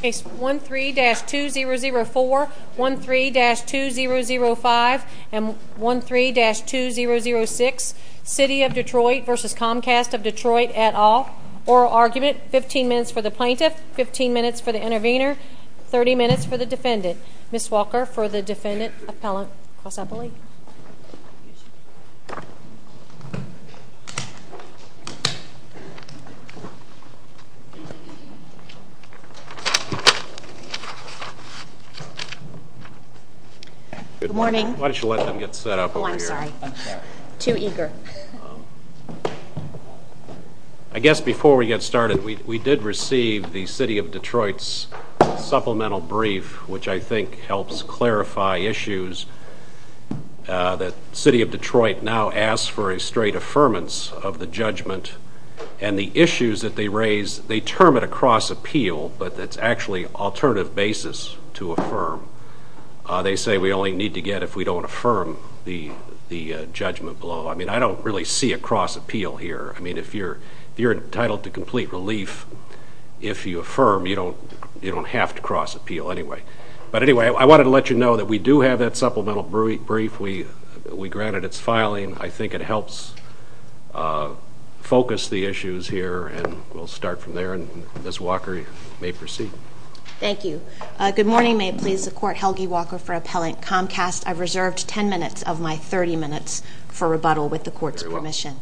Case 13-2004, 13-2005, and 13-2006, City of Detroit v. Comcast of Detroit et al. Oral argument, 15 minutes for the plaintiff, 15 minutes for the intervener, 30 minutes for the defendant. Ms. Walker for the defendant, appellant. Good morning. I guess before we get started, we did receive the City of Detroit's supplemental brief, which I think helps clarify issues that City of Detroit now asks for a straight affirmance of the judgment, and the issues that they raise, they term it a cross-appeal, but it's actually an alternative basis to affirm. They say we only need to get if we don't affirm the judgment below. I mean, I don't really see a cross-appeal here. I mean, if you're entitled to complete relief, if you affirm, you don't have to cross-appeal anyway. But anyway, I wanted to let you know that we do have that supplemental brief. We granted its filing. I think it helps focus the issues here, and we'll start from there. Ms. Walker, you may proceed. Thank you. Good morning. May it please the Court. Helgi Walker for appellant. Comcast, I've reserved 10 minutes of my 30 minutes for rebuttal with the Court's permission.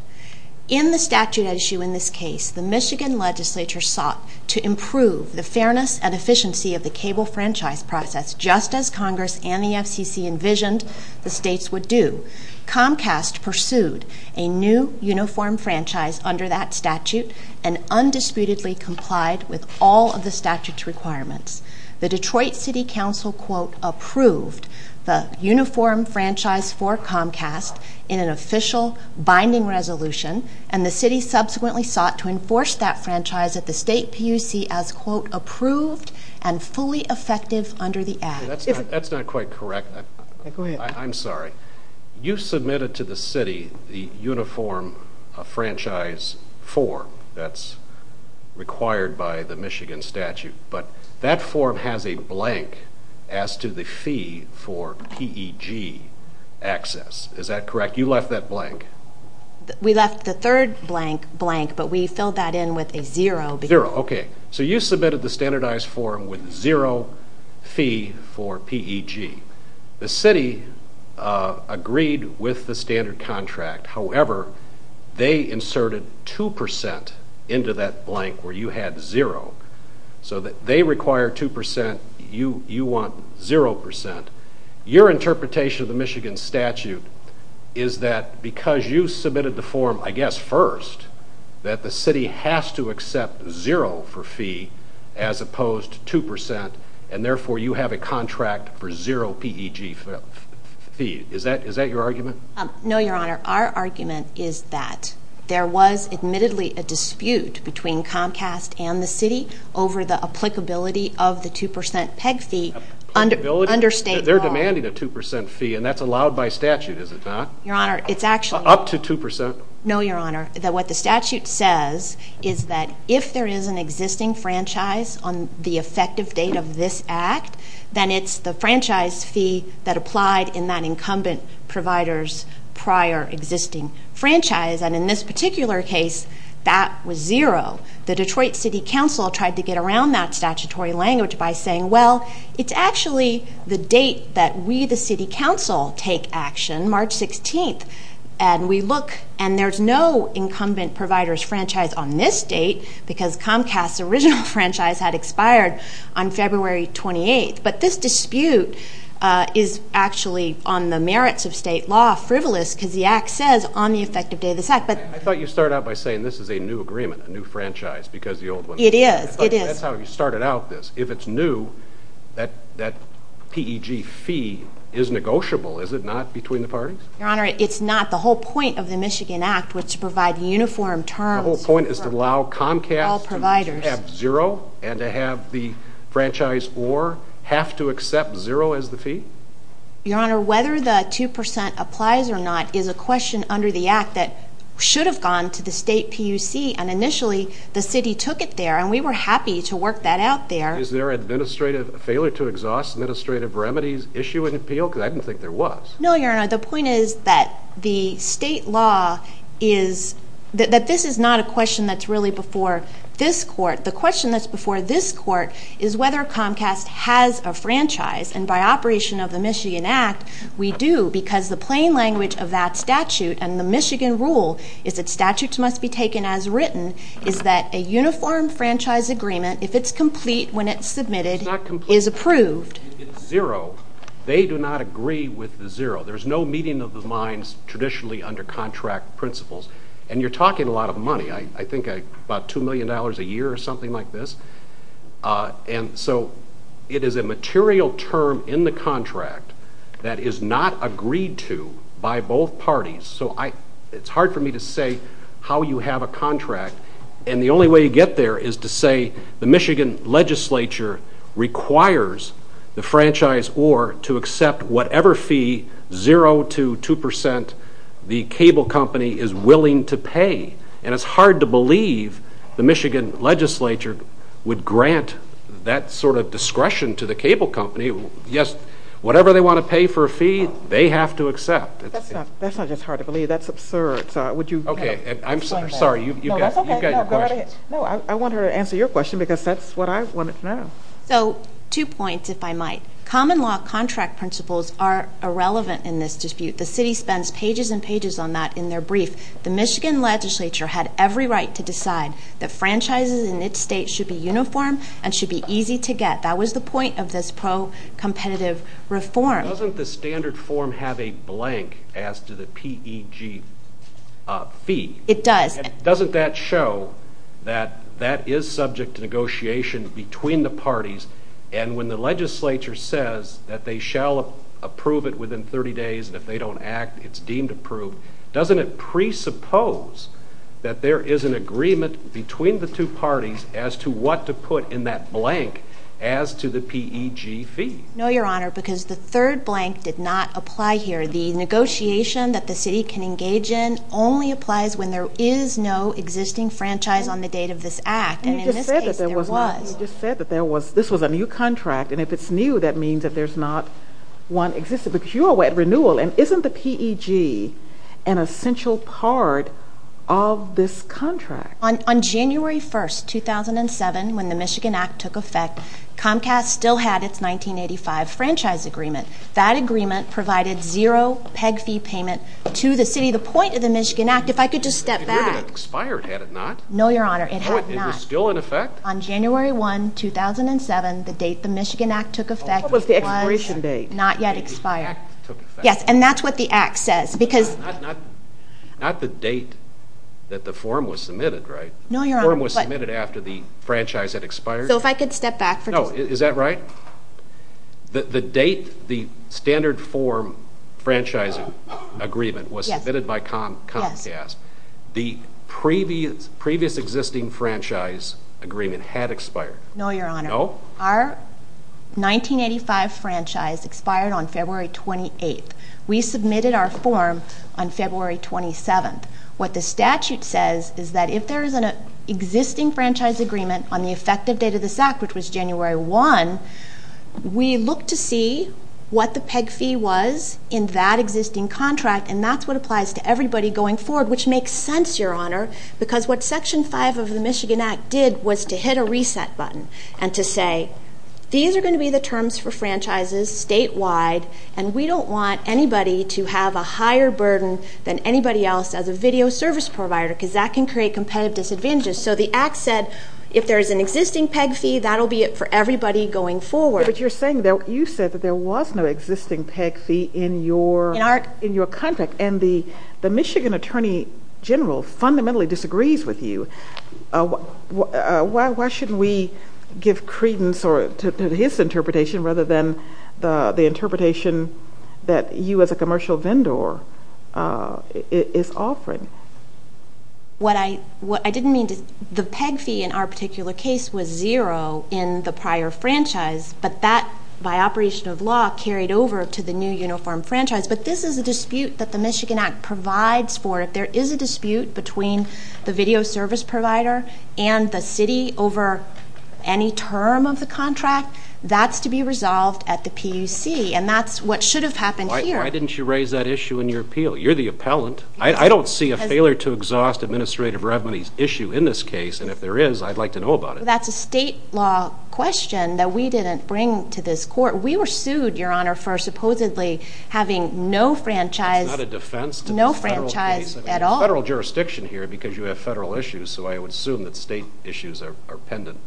In the statute at issue in this case, the Michigan legislature sought to improve the fairness and efficiency of the cable franchise process, just as Congress and the FCC envisioned the states would do. Comcast pursued a new uniform franchise under that statute and undisputedly complied with all of the statute's requirements. The Detroit City Council, quote, approved the uniform franchise for Comcast in an official binding resolution, and the city subsequently sought to enforce that franchise at the state PUC as, quote, approved and fully effective under the act. That's not quite correct. I'm sorry. You submitted to the city the uniform franchise form that's required by the Michigan statute, but that form has a blank as to the fee for PEG access. Is that correct? You left that blank. We left the third blank blank, but we filled that in with a zero. Zero, okay. So you submitted the standardized form with zero fee for PEG. The city agreed with the standard contract. However, they inserted 2% into that blank where you had zero. So they require 2%. You want 0%. Your interpretation of the Michigan statute is that because you submitted the form, I guess, first, that the city has to accept zero for fee as opposed to 2%, and therefore you have a contract for zero PEG fee. Is that your argument? No, Your Honor. Our argument is that there was admittedly a dispute between Comcast and the city over the applicability of the 2% PEG fee under state law. They're demanding a 2% fee, and that's allowed by statute, is it not? Your Honor, it's actually- Up to 2%? No, Your Honor. What the statute says is that if there is an existing franchise on the effective date of this act, then it's the franchise fee that applied in that incumbent provider's prior existing franchise. And in this particular case, that was zero. The Detroit City Council tried to get around that statutory language by saying, well, it's actually the date that we, the city council, take action, March 16th. And we look, and there's no incumbent provider's franchise on this date because Comcast's original franchise had expired on February 28th. But this dispute is actually on the merits of state law, frivolous, because the act says on the effective date of this act. I thought you started out by saying this is a new agreement, a new franchise, because the old one- It is. It is. I thought that's how you started out this. If it's new, that PEG fee is negotiable, is it not, between the parties? Your Honor, it's not. The whole point of the Michigan Act was to provide the uniform term- The whole point is to allow Comcast to have zero and to have the franchise or have to accept zero as the fee? Your Honor, whether the 2% applies or not is a question under the act that should have gone to the state PUC, and initially the city took it there, and we were happy to work that out there. Is there an administrative failure to exhaust administrative remedies issue in the appeal? Because I didn't think there was. No, Your Honor. The point is that the state law is- That this is not a question that's really before this court. The question that's before this court is whether Comcast has a franchise, and by operation of the Michigan Act, we do, because the plain language of that statute and the Michigan rule is that statutes must be taken as written, is that a uniform franchise agreement, if it's complete when it's submitted, is approved. If it's zero, they do not agree with the zero. There's no meeting of the lines traditionally under contract principles, and you're talking a lot of money, I think about $2 million a year or something like this, and so it is a material term in the contract that is not agreed to by both parties, so it's hard for me to say how you have a contract, and the only way you get there is to say the Michigan legislature requires the franchise or to accept whatever fee, zero to two percent, the cable company is willing to pay, and it's hard to believe the Michigan legislature would grant that sort of discretion to the cable company. Yes, whatever they want to pay for a fee, they have to accept. That's not just hard to believe. That's absurd. I'm sorry, you've got your question. No, I want her to answer your question because that's what I was wanting to know. Two points, if I might. Common law contract principles are irrelevant in this dispute. The city spends pages and pages on that in their brief. The Michigan legislature had every right to decide that franchises in its state should be uniform and should be easy to get. That was the point of this pro-competitive reform. Doesn't the standard form have a blank as to the PEG fee? It does. Doesn't that show that that is subject to negotiation between the parties, and when the legislature says that they shall approve it within 30 days, and if they don't act, it's deemed approved, doesn't it presuppose that there is an agreement between the two parties as to what to put in that blank as to the PEG fee? No, Your Honor, because the third blank did not apply here. The negotiation that the city can engage in only applies when there is no existing franchise on the date of this act, and in this case there was. You just said that this was a new contract, and if it's new, that means that there's not one existing. But you're at renewal, and isn't the PEG an essential part of this contract? On January 1, 2007, when the Michigan Act took effect, Comcast still had its 1985 franchise agreement. That agreement provided zero PEG fee payment to the city. The point of the Michigan Act, if I could just step back. The agreement expired, had it not? No, Your Honor, it had not. It was still in effect? On January 1, 2007, the date the Michigan Act took effect was not yet expired. And that's what the act says. Not the date that the form was submitted, right? No, Your Honor. The form was submitted after the franchise had expired? So if I could step back for just a moment. No, is that right? The date the standard form franchising agreement was submitted by Comcast, the previous existing franchise agreement had expired? No, Your Honor. No? Our 1985 franchise expired on February 28. We submitted our form on February 27. What the statute says is that if there is an existing franchise agreement on the effective date of the fact, which was January 1, we look to see what the PEG fee was in that existing contract, and that's what applies to everybody going forward, which makes sense, Your Honor, because what Section 5 of the Michigan Act did was to hit a reset button and to say these are going to be the terms for franchises statewide, and we don't want anybody to have a higher burden than anybody else as a video service provider, because that can create competitive disadvantages. So the act said if there is an existing PEG fee, that will be it for everybody going forward. But you said that there was no existing PEG fee in your contract, and the Michigan Attorney General fundamentally disagrees with you. Why should we give credence to his interpretation rather than the interpretation that you as a commercial vendor is offering? I didn't mean to. The PEG fee in our particular case was zero in the prior franchise, but that, by operation of law, carried over to the new uniform franchise. But this is a dispute that the Michigan Act provides for it. There is a dispute between the video service provider and the city over any term of the contract. That's to be resolved at the PEC, and that's what should have happened here. Why didn't you raise that issue in your appeal? You're the appellant. I don't see a failure-to-exhaust administrative revenues issue in this case, and if there is, I'd like to know about it. That's a state law question that we didn't bring to this court. We were sued, Your Honor, for supposedly having no franchise at all. It's not a defense to the federal case. It's federal jurisdiction here because you have federal issues, so I would assume that state issues are pendant.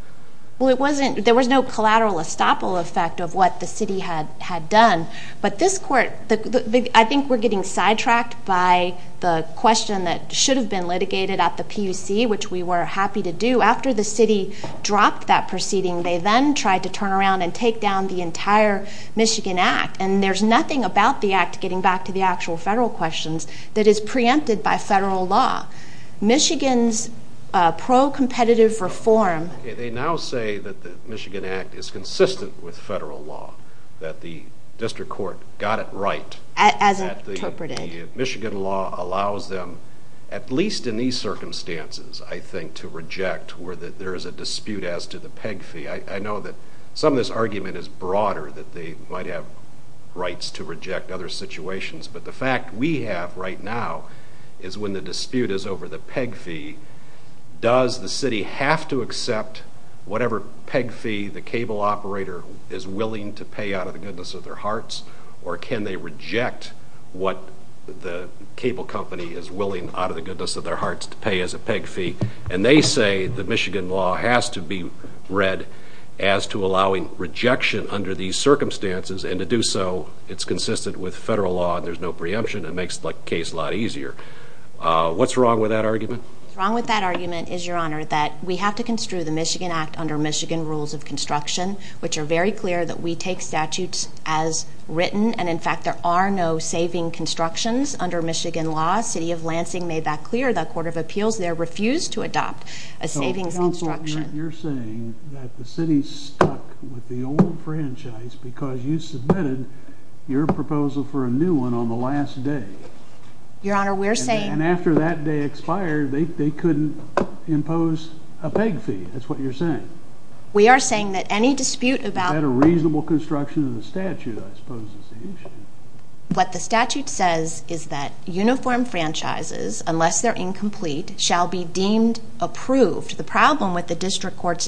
Well, there was no collateral estoppel effect of what the city had done, but I think we're getting sidetracked by the question that should have been litigated at the PEC, which we were happy to do. After the city dropped that proceeding, they then tried to turn around and take down the entire Michigan Act, and there's nothing about the Act, getting back to the actual federal questions, that is preempted by federal law. Michigan's pro-competitive reform They now say that the Michigan Act is consistent with federal law, that the district court got it right. As interpreted. Michigan law allows them, at least in these circumstances, I think, to reject where there is a dispute as to the PEG fee. I know that some of this argument is broader, that they might have rights to reject other situations, but the fact we have right now is when the dispute is over the PEG fee, does the city have to accept whatever PEG fee the cable operator is willing to pay out of the goodness of their hearts, or can they reject what the cable company is willing, out of the goodness of their hearts, to pay as a PEG fee? And they say the Michigan law has to be read as to allowing rejection under these circumstances, and to do so, it's consistent with federal law, there's no preemption, it makes the case a lot easier. What's wrong with that argument? What's wrong with that argument is, Your Honor, that we have to construe the Michigan Act under Michigan rules of construction, which are very clear that we take statutes as written, and in fact there are no saving constructions under Michigan law. The city of Lansing made that clear, the Court of Appeals there refused to adopt a saving construction. So you're saying that the city's stuck with the old franchise because you submitted your proposal for a new one on the last day. Your Honor, we're saying... And after that day expired, they couldn't impose a PEG fee, that's what you're saying. We are saying that any dispute about... Is that a reasonable construction of the statute, I suppose, is the issue. What the statute says is that uniform franchises, unless they're incomplete, shall be deemed approved. The problem with the district court's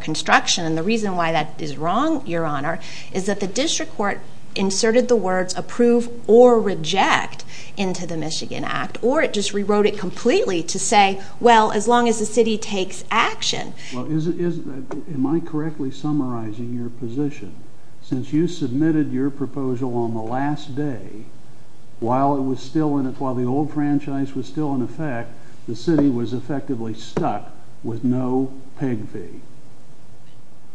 construction, and the reason why that is wrong, Your Honor, is that the district court inserted the words approve or reject into the Michigan Act, or it just rewrote it completely to say, well, as long as the city takes action... Am I correctly summarizing your position? Since you submitted your proposal on the last day, while the old franchise was still in effect, the city was effectively stuck with no PEG fee.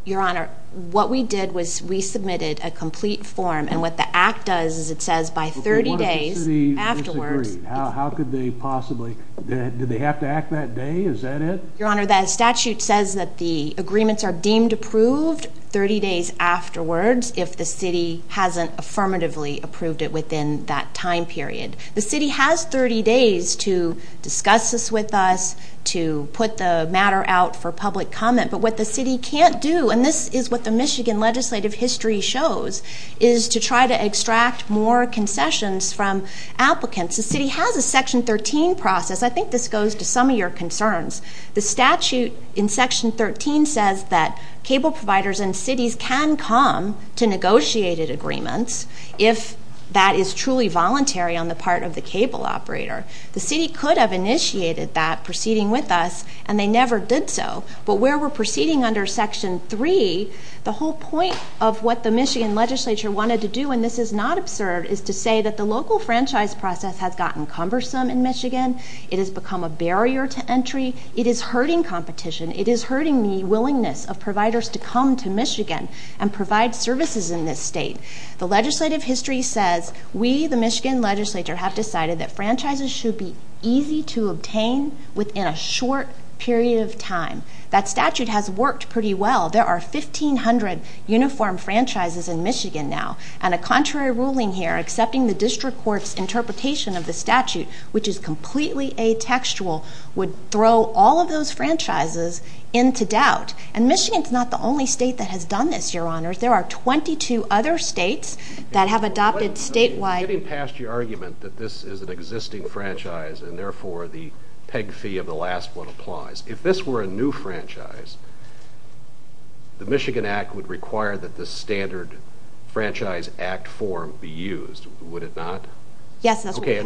Your Honor, what we did was we submitted a complete form, and what the Act does is it says by 30 days afterwards... How could they possibly... Did they have to act that day? Is that it? Your Honor, that statute says that the agreements are deemed approved 30 days afterwards if the city hasn't affirmatively approved it within that time period. The city has 30 days to discuss this with us, to put the matter out for public comment, but what the city can't do, and this is what the Michigan legislative history shows, is to try to extract more concessions from applicants. The city has a Section 13 process. I think this goes to some of your concerns. The statute in Section 13 says that cable providers in cities can come to negotiated agreements if that is truly voluntary on the part of the cable operator. The city could have initiated that proceeding with us, and they never did so, but where we're proceeding under Section 3, the whole point of what the Michigan legislature wanted to do, and this is not observed, is to say that the local franchise process has gotten cumbersome in Michigan. It has become a barrier to entry. It is hurting competition. It is hurting the willingness of providers to come to Michigan and provide services in this state. The legislative history says we, the Michigan legislature, have decided that franchises should be easy to obtain within a short period of time. That statute has worked pretty well. There are 1,500 uniform franchises in Michigan now, and a contrary ruling here, accepting the district court's interpretation of the statute, which is completely atextual, would throw all of those franchises into doubt. Michigan is not the only state that has done this, Your Honors. There are 22 other states that have adopted statewide... I'm getting past your argument that this is an existing franchise, and therefore the peg fee of the last one applies. If this were a new franchise, the Michigan Act would require that the standard franchise act form be used, would it not? Yes, that's correct.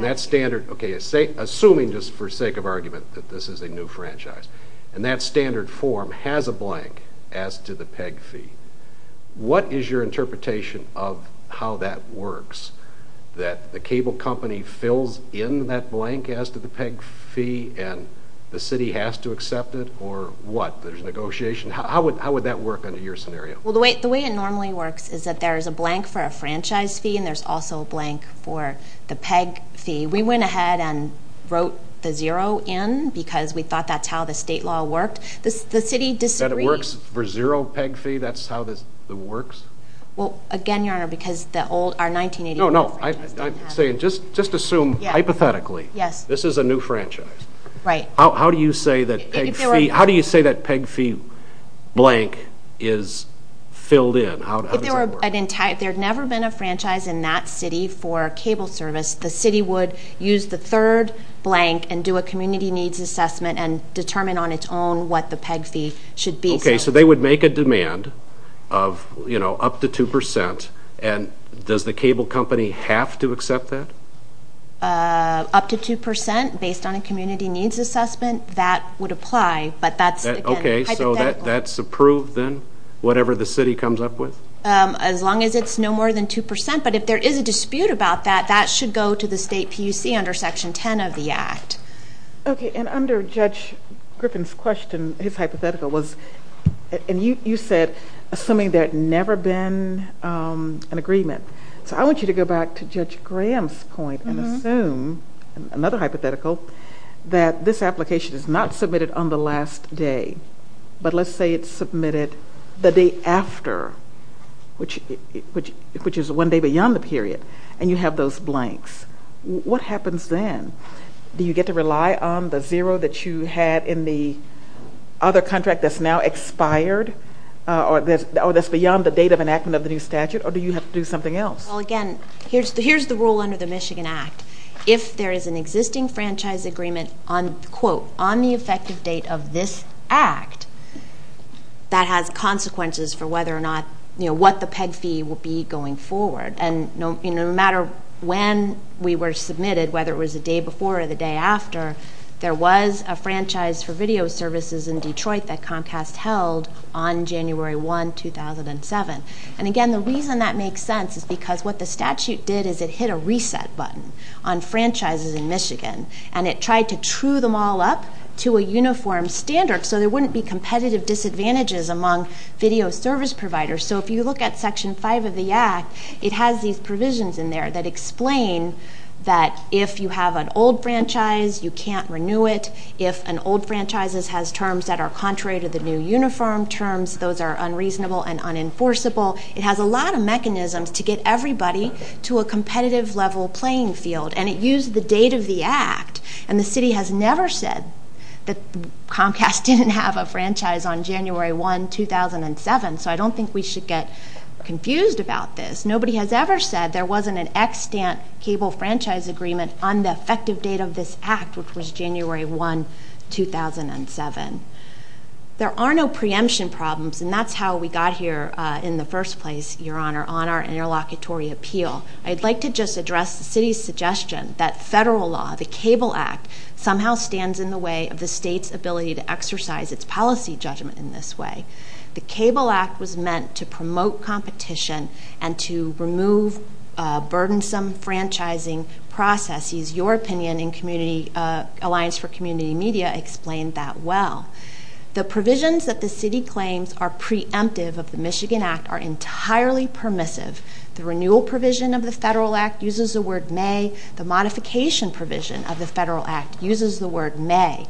Assuming, just for sake of argument, that this is a new franchise, and that standard form has a blank as to the peg fee, what is your interpretation of how that works? That the cable company fills in that blank as to the peg fee, and the city has to accept it, or what? There's negotiation? How would that work under your scenario? Well, the way it normally works is that there is a blank for a franchise fee, and there's also a blank for the peg fee. We went ahead and wrote the zero in because we thought that's how the state law worked. The city disagreed. So you're saying that it works for zero peg fee, that's how it works? Well, again, Your Honor, because the old, our 1981... No, no, I'm saying just assume hypothetically this is a new franchise. Right. How do you say that peg fee blank is filled in? If there had never been a franchise in that city for cable service, the city would use the third blank and do a community needs assessment and determine on its own what the peg fee should be. Okay, so they would make a demand of up to 2%, and does the cable company have to accept that? Up to 2% based on a community needs assessment, that would apply. Okay, so that's approved then, whatever the city comes up with? As long as it's no more than 2%. But if there is a dispute about that, that should go to the state PUC under Section 10 of the Act. Okay, and under Judge Griffin's question, his hypothetical was, and you said assuming there had never been an agreement. So I want you to go back to Judge Grant's point and assume, another hypothetical, that this application is not submitted on the last day, but let's say it's submitted the day after, which is one day beyond the period, and you have those blanks. What happens then? Do you get to rely on the zero that you had in the other contract that's now expired, or that's beyond the date of enactment of the new statute, or do you have to do something else? Well, again, here's the rule under the Michigan Act. If there is an existing franchise agreement on, quote, on the effective date of this act, that has consequences for whether or not, you know, what the peg fee will be going forward. And no matter when we were submitted, whether it was the day before or the day after, there was a franchise for video services in Detroit that Comcast held on January 1, 2007. And again, the reason that makes sense is because what the statute did is it hit a reset button on franchises in Michigan, and it tried to true them all up to a uniform standard so there wouldn't be competitive disadvantages among video service providers. So if you look at Section 5 of the Act, it has these provisions in there that explain that if you have an old franchise, you can't renew it. If an old franchise has terms that are contrary to the new uniform terms, those are unreasonable and unenforceable. It has a lot of mechanisms to get everybody to a competitive level playing field, and it used the date of the act. And the city has never said that Comcast didn't have a franchise on January 1, 2007, so I don't think we should get confused about this. Nobody has ever said there wasn't an extant cable franchise agreement on the effective date of this act, which was January 1, 2007. There are no preemption problems, and that's how we got here in the first place, Your Honor, on our interlocutory appeal. I'd like to just address the city's suggestion that federal law, the Cable Act, somehow stands in the way of the state's ability to exercise its policy judgment in this way. The Cable Act was meant to promote competition and to remove burdensome franchising processes. Your opinion in Alliance for Community Media explained that well. The provisions that the city claims are preemptive of the Michigan Act are entirely permissive. The renewal provision of the federal act uses the word may. The modification provision of the federal act uses the word may.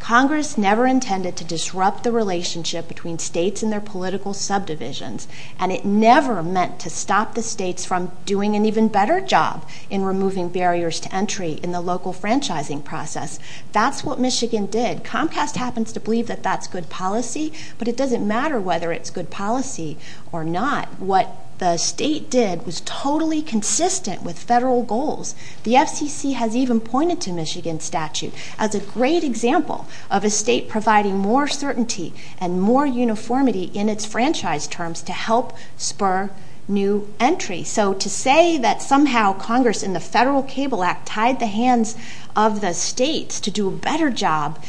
Congress never intended to disrupt the relationship between states and their political subdivisions, and it never meant to stop the states from doing an even better job in removing barriers to entry in the local franchising process. That's what Michigan did. Comcast happens to believe that that's good policy, but it doesn't matter whether it's good policy or not. What the state did was totally consistent with federal goals. The FCC has even pointed to Michigan's statute. It's a great example of a state providing more certainty and more uniformity in its franchise terms to help spur new entry. So to say that somehow Congress in the Federal Cable Act tied the hands of the states to do a better job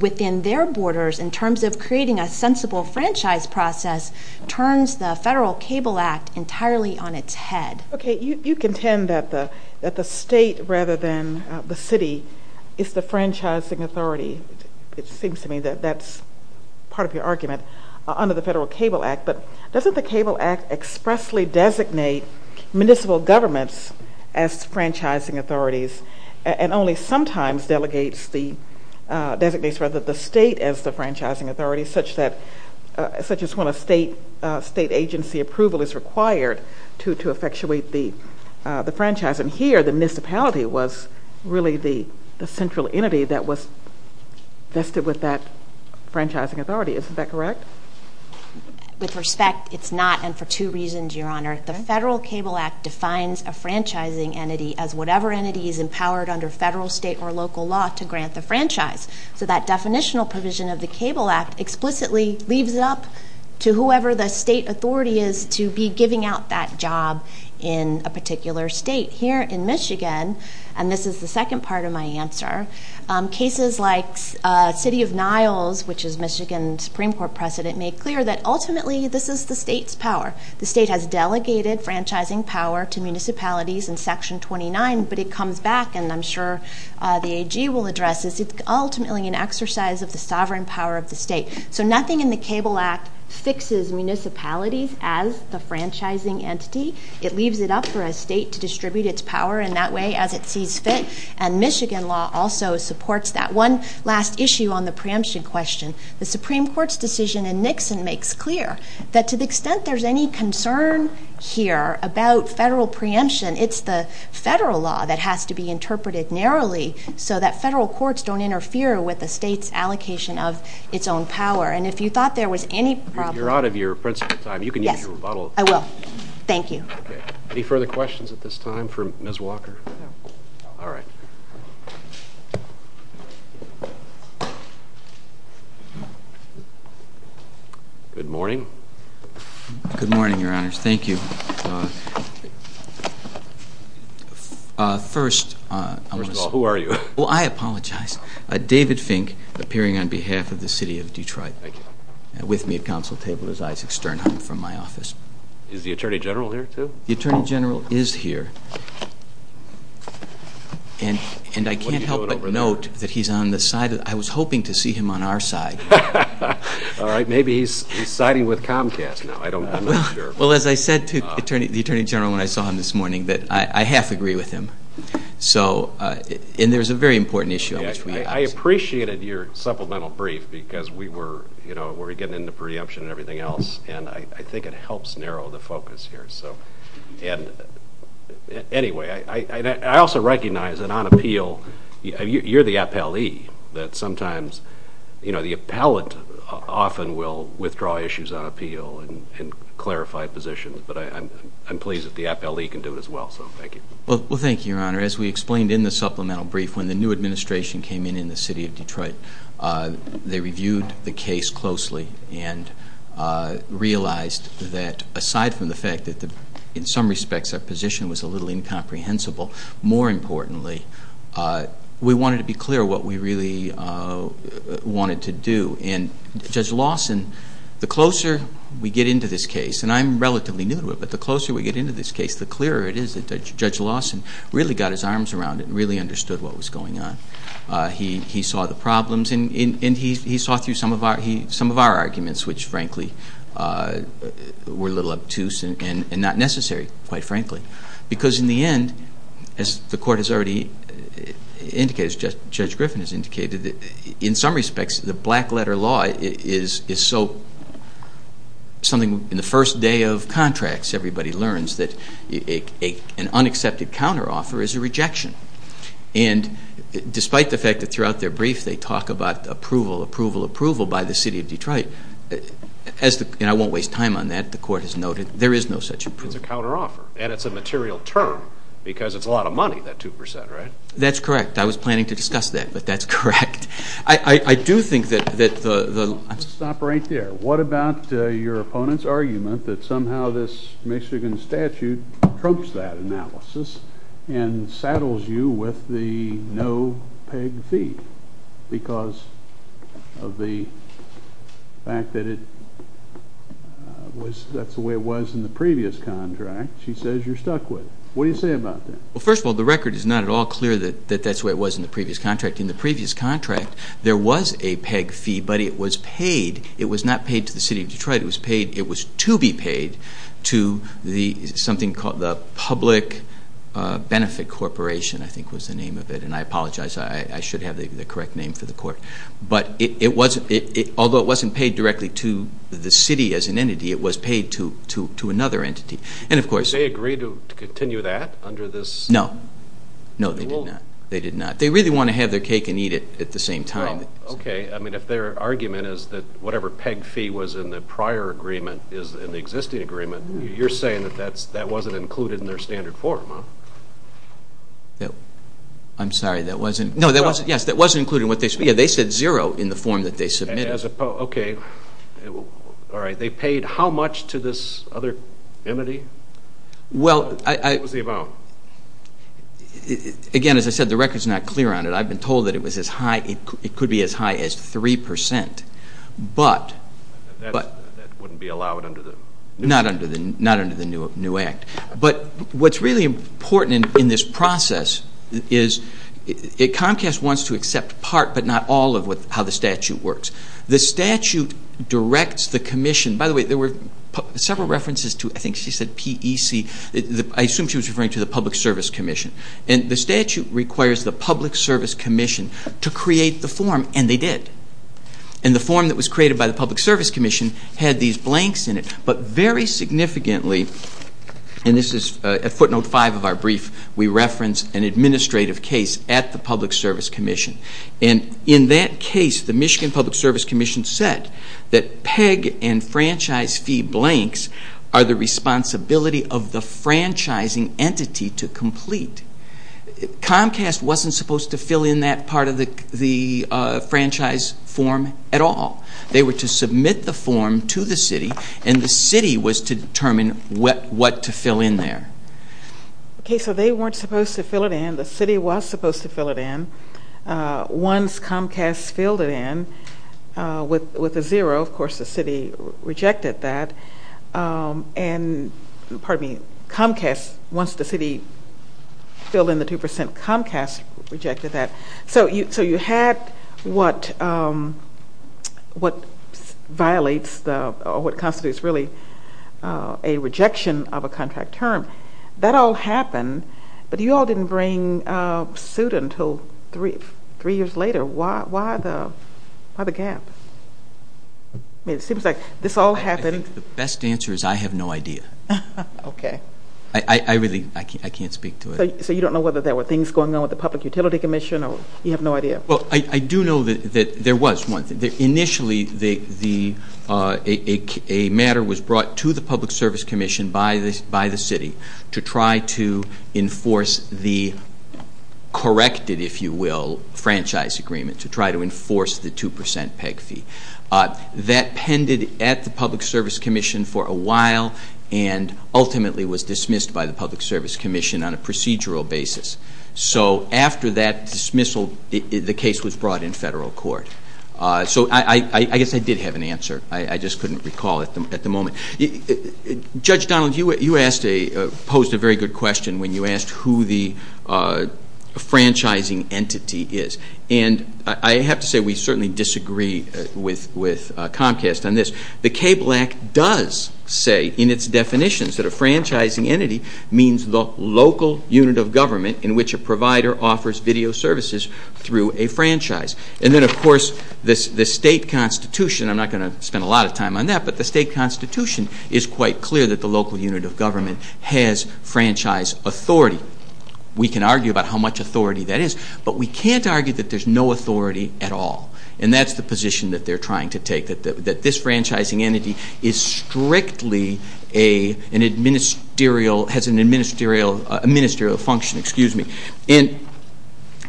within their borders in terms of creating a sensible franchise process turns the Federal Cable Act entirely on its head. Okay, you contend that the state rather than the city is the franchising authority. It seems to me that that's part of your argument under the Federal Cable Act, but doesn't the Cable Act expressly designate municipal governments as franchising authorities and only sometimes designates the state as the franchising authority, such as when a state agency approval is required to effectuate the franchise. And here, the municipality was really the central entity that was vested with that franchising authority. Isn't that correct? With respect, it's not, and for two reasons, Your Honor. The Federal Cable Act defines a franchising entity as whatever entity is empowered under federal, state, or local law to grant a franchise. So that definitional provision of the Cable Act explicitly leaves it up to whoever the state authority is to be giving out that job in a particular state. Here in Michigan, and this is the second part of my answer, cases like City of Niles, which is Michigan's Supreme Court precedent, make clear that ultimately this is the state's power. The state has delegated franchising power to municipalities in Section 29, but it comes back, and I'm sure the AG will address this. It's ultimately an exercise of the sovereign power of the state. So nothing in the Cable Act fixes municipalities as the franchising entity. It leaves it up for a state to distribute its power in that way as it sees fit, and Michigan law also supports that. One last issue on the preemption question. The Supreme Court's decision in Nixon makes clear that to the extent there's any concern here about federal preemption, it's the federal law that has to be interpreted narrowly so that federal courts don't interfere with the state's allocation of its own power. And if you thought there was any problem... If you're out of your principle time, you can use your rebuttal. I will. Thank you. Any further questions at this time for Ms. Walker? All right. Good morning. Good morning, Your Honors. Thank you. First... First of all, who are you? Well, I apologize. David Fink, appearing on behalf of the city of Detroit. Thank you. With me at council table is Isaac Sternheim from my office. Is the Attorney General here, too? The Attorney General is here. And I can't help but note that he's on the side of... I was hoping to see him on our side. All right. Maybe he's siding with Comcast now. I don't know. Well, as I said to the Attorney General when I saw him this morning, I have to agree with him. So... And there's a very important issue. I appreciated your supplemental brief because we were, you know, we were getting into preemption and everything else, and I think it helps narrow the focus here. And anyway, I also recognize that on appeal, you're the appellee, that sometimes, you know, the appellate often will withdraw issues on appeal and clarify positions, but I'm pleased that the appellee can do it as well, so thank you. Well, thank you, Your Honor. As we explained in the supplemental brief, when the new administration came in in the city of Detroit, they reviewed the case closely and realized that, aside from the fact that in some respects that position was a little incomprehensible, more importantly, we wanted to be clear what we really wanted to do. And Judge Lawson, the closer we get into this case, and I'm relatively new to it, but the closer we get into this case, the clearer it is that Judge Lawson really got his arms around it and really understood what was going on. He saw the problems, and he saw through some of our arguments, which, frankly, were a little obtuse and not necessary, quite frankly, because in the end, as the Court has already indicated, as Judge Griffin has indicated, in some respects the black-letter law is so something in the first day of contracts everybody learns that an unaccepted counteroffer is a rejection. And despite the fact that throughout their brief they talk about approval, approval, approval by the city of Detroit, and I won't waste time on that, the Court has noted, there is no such approval. It's a counteroffer, and it's a material term, because it's a lot of money, that 2%, right? That's correct. I was planning to discuss that, but that's correct. I do think that the... Let's stop right there. What about your opponent's argument that somehow this Michigan statute trumps that analysis and saddles you with the no-peg defeat because of the fact that that's the way it was in the previous contract? She says you're stuck with it. What do you say about that? Well, first of all, the record is not at all clear that that's the way it was in the previous contract. In the previous contract, there was a peg fee, but it was paid. It was not paid to the city of Detroit. It was to be paid to something called the Public Benefit Corporation, I think was the name of it, and I apologize. I should have the correct name for the court. But although it wasn't paid directly to the city as an entity, it was paid to another entity. Did they agree to continue that under this rule? No. No, they did not. They really want to have their cake and eat it at the same time. Okay. I mean, if their argument is that whatever peg fee was in the prior agreement is in the existing agreement, you're saying that that wasn't included in their standard form, huh? I'm sorry, that wasn't. No, that wasn't. Yes, that wasn't included in what they said. Yeah, they said zero in the form that they submitted. Okay. All right. They paid how much to this other entity? Well, I... What was the amount? Again, as I said, the record is not clear on it. I've been told that it could be as high as 3%. But... That wouldn't be allowed under the... Not under the new act. But what's really important in this process is Comcast wants to accept part but not all of how the statute works. The statute directs the commission... By the way, there were several references to, I think she said PEC. I assume she was referring to the Public Service Commission. And the statute requires the Public Service Commission to create the form, and they did. And the form that was created by the Public Service Commission had these blanks in it. But very significantly, and this is footnote 5 of our brief, we referenced an administrative case at the Public Service Commission. And in that case, the Michigan Public Service Commission said that PEG and franchise fee blanks are the responsibility of the franchising entity to complete. Comcast wasn't supposed to fill in that part of the franchise form at all. They were to submit the form to the city, and the city was to determine what to fill in there. Okay, so they weren't supposed to fill it in. The city was supposed to fill it in. Once Comcast filled it in with a zero, of course the city rejected that. And, pardon me, Comcast, once the city filled in the 2%, Comcast rejected that. So you had what constitutes really a rejection of a contract term. That all happened, but you all didn't bring suit until three years later. Why the gap? It seems like this all happened. The best answer is I have no idea. I really can't speak to it. So you don't know whether there were things going on with the Public Utility Commission, or you have no idea? Well, I do know that there was one thing. Initially, a matter was brought to the Public Service Commission by the city to try to enforce the corrected, if you will, franchise agreement, to try to enforce the 2% PEG fee. That pended at the Public Service Commission for a while and ultimately was dismissed by the Public Service Commission on a procedural basis. So after that dismissal, the case was brought in federal court. So I guess I did have an answer. I just couldn't recall at the moment. Judge Donald, you posed a very good question when you asked who the franchising entity is. And I have to say we certainly disagree with Comcast on this. The KBLAC does say in its definitions that a franchising entity means the local unit of government in which a provider offers video services through a franchise. And then, of course, the state constitution, I'm not going to spend a lot of time on that, but the state constitution is quite clear that the local unit of government has franchise authority. We can argue about how much authority that is, but we can't argue that there's no authority at all. And that's the position that they're trying to take, that this franchising entity is strictly an administerial function. And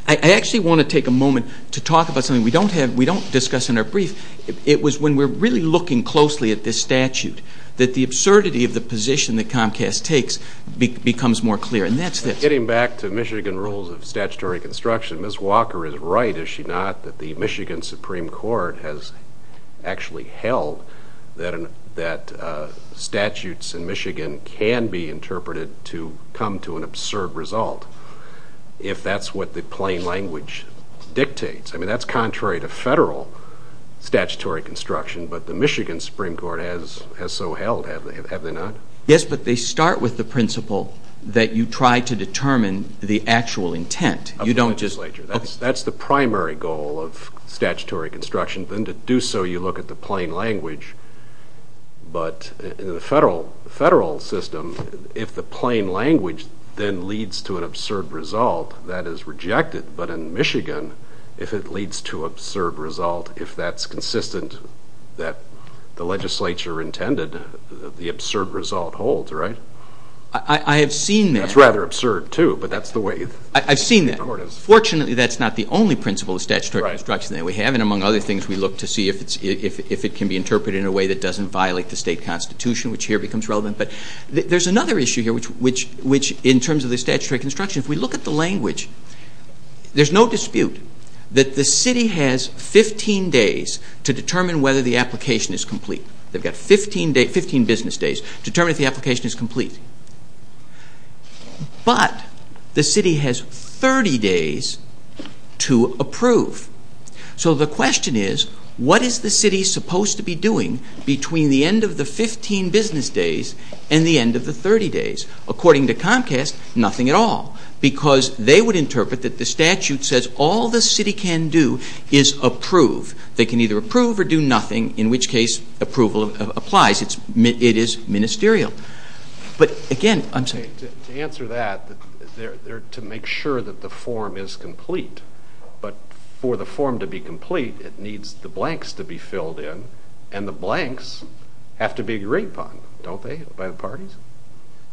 I actually want to take a moment to talk about something we don't discuss in our brief. It was when we were really looking closely at this statute that the absurdity of the position that Comcast takes becomes more clear. Getting back to Michigan rules of statutory construction, Ms. Walker is right, is she not, that the Michigan Supreme Court has actually held that statutes in Michigan can be interpreted to come to an absurd result if that's what the plain language dictates. I mean, that's contrary to federal statutory construction, but the Michigan Supreme Court has so held, have they not? Yes, but they start with the principle that you try to determine the actual intent. That's the primary goal of statutory construction, and to do so you look at the plain language. But in the federal system, if the plain language then leads to an absurd result, that is rejected. But in Michigan, if it leads to an absurd result, if that's consistent that the legislature intended, the absurd result holds, right? I have seen that. That's rather absurd too, but that's the way it is. I've seen that. Fortunately, that's not the only principle of statutory construction that we have, and among other things, we look to see if it can be interpreted in a way that doesn't violate the state constitution, which here becomes relevant. But there's another issue here, which in terms of the statutory construction, if we look at the language, there's no dispute that the city has 15 days to determine whether the application is complete. They've got 15 business days to determine if the application is complete. But the city has 30 days to approve. So the question is, what is the city supposed to be doing between the end of the 15 business days and the end of the 30 days? According to Comcast, nothing at all, because they would interpret that the statute says all the city can do is approve. They can either approve or do nothing, in which case approval applies. It is ministerial. But again, I'm sorry. To answer that, they're to make sure that the form is complete. But for the form to be complete, it needs the blanks to be filled in, and the blanks have to be agreed upon, don't they, by the parties?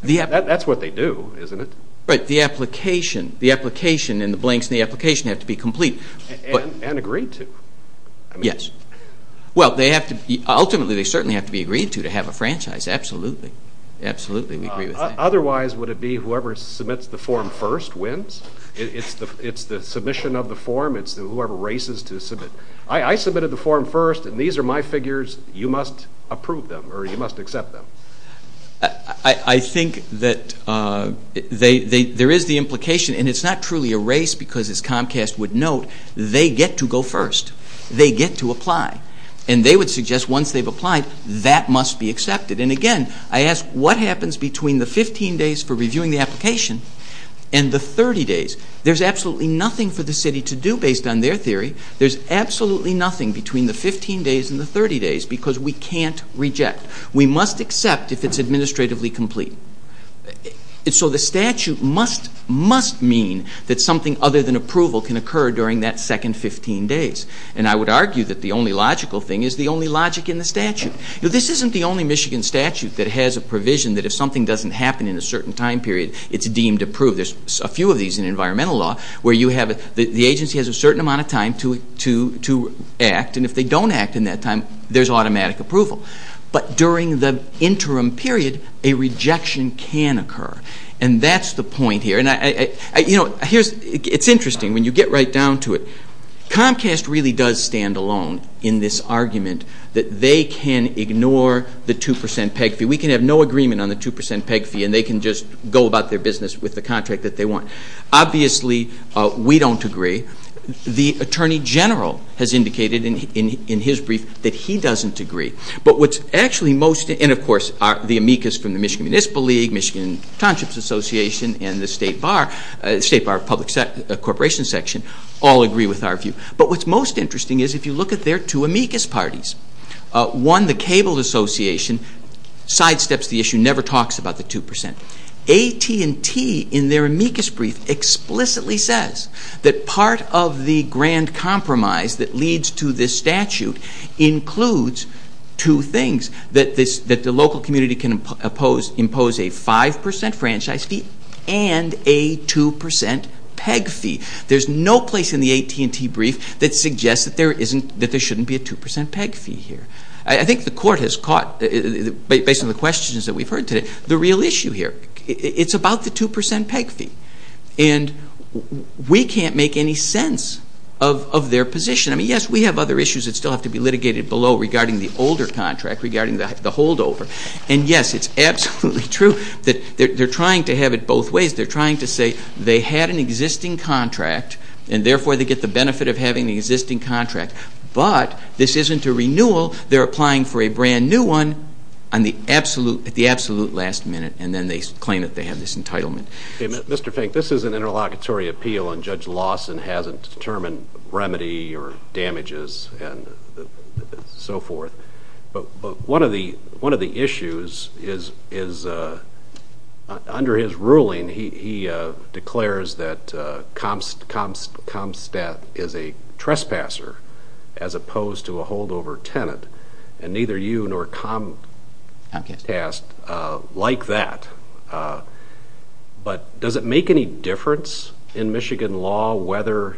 That's what they do, isn't it? Right, the application and the blanks in the application have to be complete. And agreed to. Yes. Ultimately, they certainly have to be agreed to to have a franchise. Absolutely. Otherwise, would it be whoever submits the form first wins? It's the submission of the form. It's whoever races to submit. I submitted the form first, and these are my figures. You must approve them, or you must accept them. I think that there is the implication, and it's not truly a race because, as Comcast would note, they get to go first. They get to apply. And they would suggest once they've applied, that must be accepted. And again, I ask, what happens between the 15 days for reviewing the application and the 30 days? There's absolutely nothing for the city to do based on their theory. There's absolutely nothing between the 15 days and the 30 days because we can't reject. We must accept if it's administratively complete. So the statute must, must mean that something other than approval can occur during that second 15 days. And I would argue that the only logical thing is the only logic in the statute. This isn't the only Michigan statute that has a provision that if something doesn't happen in a certain time period, it's deemed approved. There's a few of these in environmental law where the agency has a certain amount of time to act, and if they don't act in that time, there's automatic approval. But during the interim period, a rejection can occur, and that's the point here. It's interesting when you get right down to it. Comcast really does stand alone in this argument that they can ignore the 2% PEG fee. We can have no agreement on the 2% PEG fee, and they can just go about their business with the contract that they want. Obviously, we don't agree. The Attorney General has indicated in his brief that he doesn't agree. But what's actually most, and of course the amicus from the Michigan Municipal League, Michigan Contracts Association, and the State Bar, State Bar of Public Corporation section, all agree with our view. But what's most interesting is if you look at their two amicus parties, one, the Cable Association, sidesteps the issue, never talks about the 2%. AT&T in their amicus brief explicitly says that part of the grand compromise that leads to this statute includes two things, that the local community can impose a 5% franchise fee and a 2% PEG fee. There's no place in the AT&T brief that suggests that there shouldn't be a 2% PEG fee here. I think the court has caught, based on the questions that we've heard today, the real issue here. It's about the 2% PEG fee, and we can't make any sense of their position. I mean, yes, we have other issues that still have to be litigated below regarding the older contract, regarding the holdover. And yes, it's absolutely true that they're trying to have it both ways. They're trying to say they had an existing contract, and therefore they get the benefit of having an existing contract. But this isn't a renewal. They're applying for a brand new one at the absolute last minute, and then they claim that they have this entitlement. Mr. Fink, this is an interlocutory appeal, and Judge Lawson hasn't determined remedy or damages and so forth. But one of the issues is, under his ruling, he declares that Comstat is a trespasser as opposed to a holdover tenant. And neither you nor Comstat like that. But does it make any difference in Michigan law whether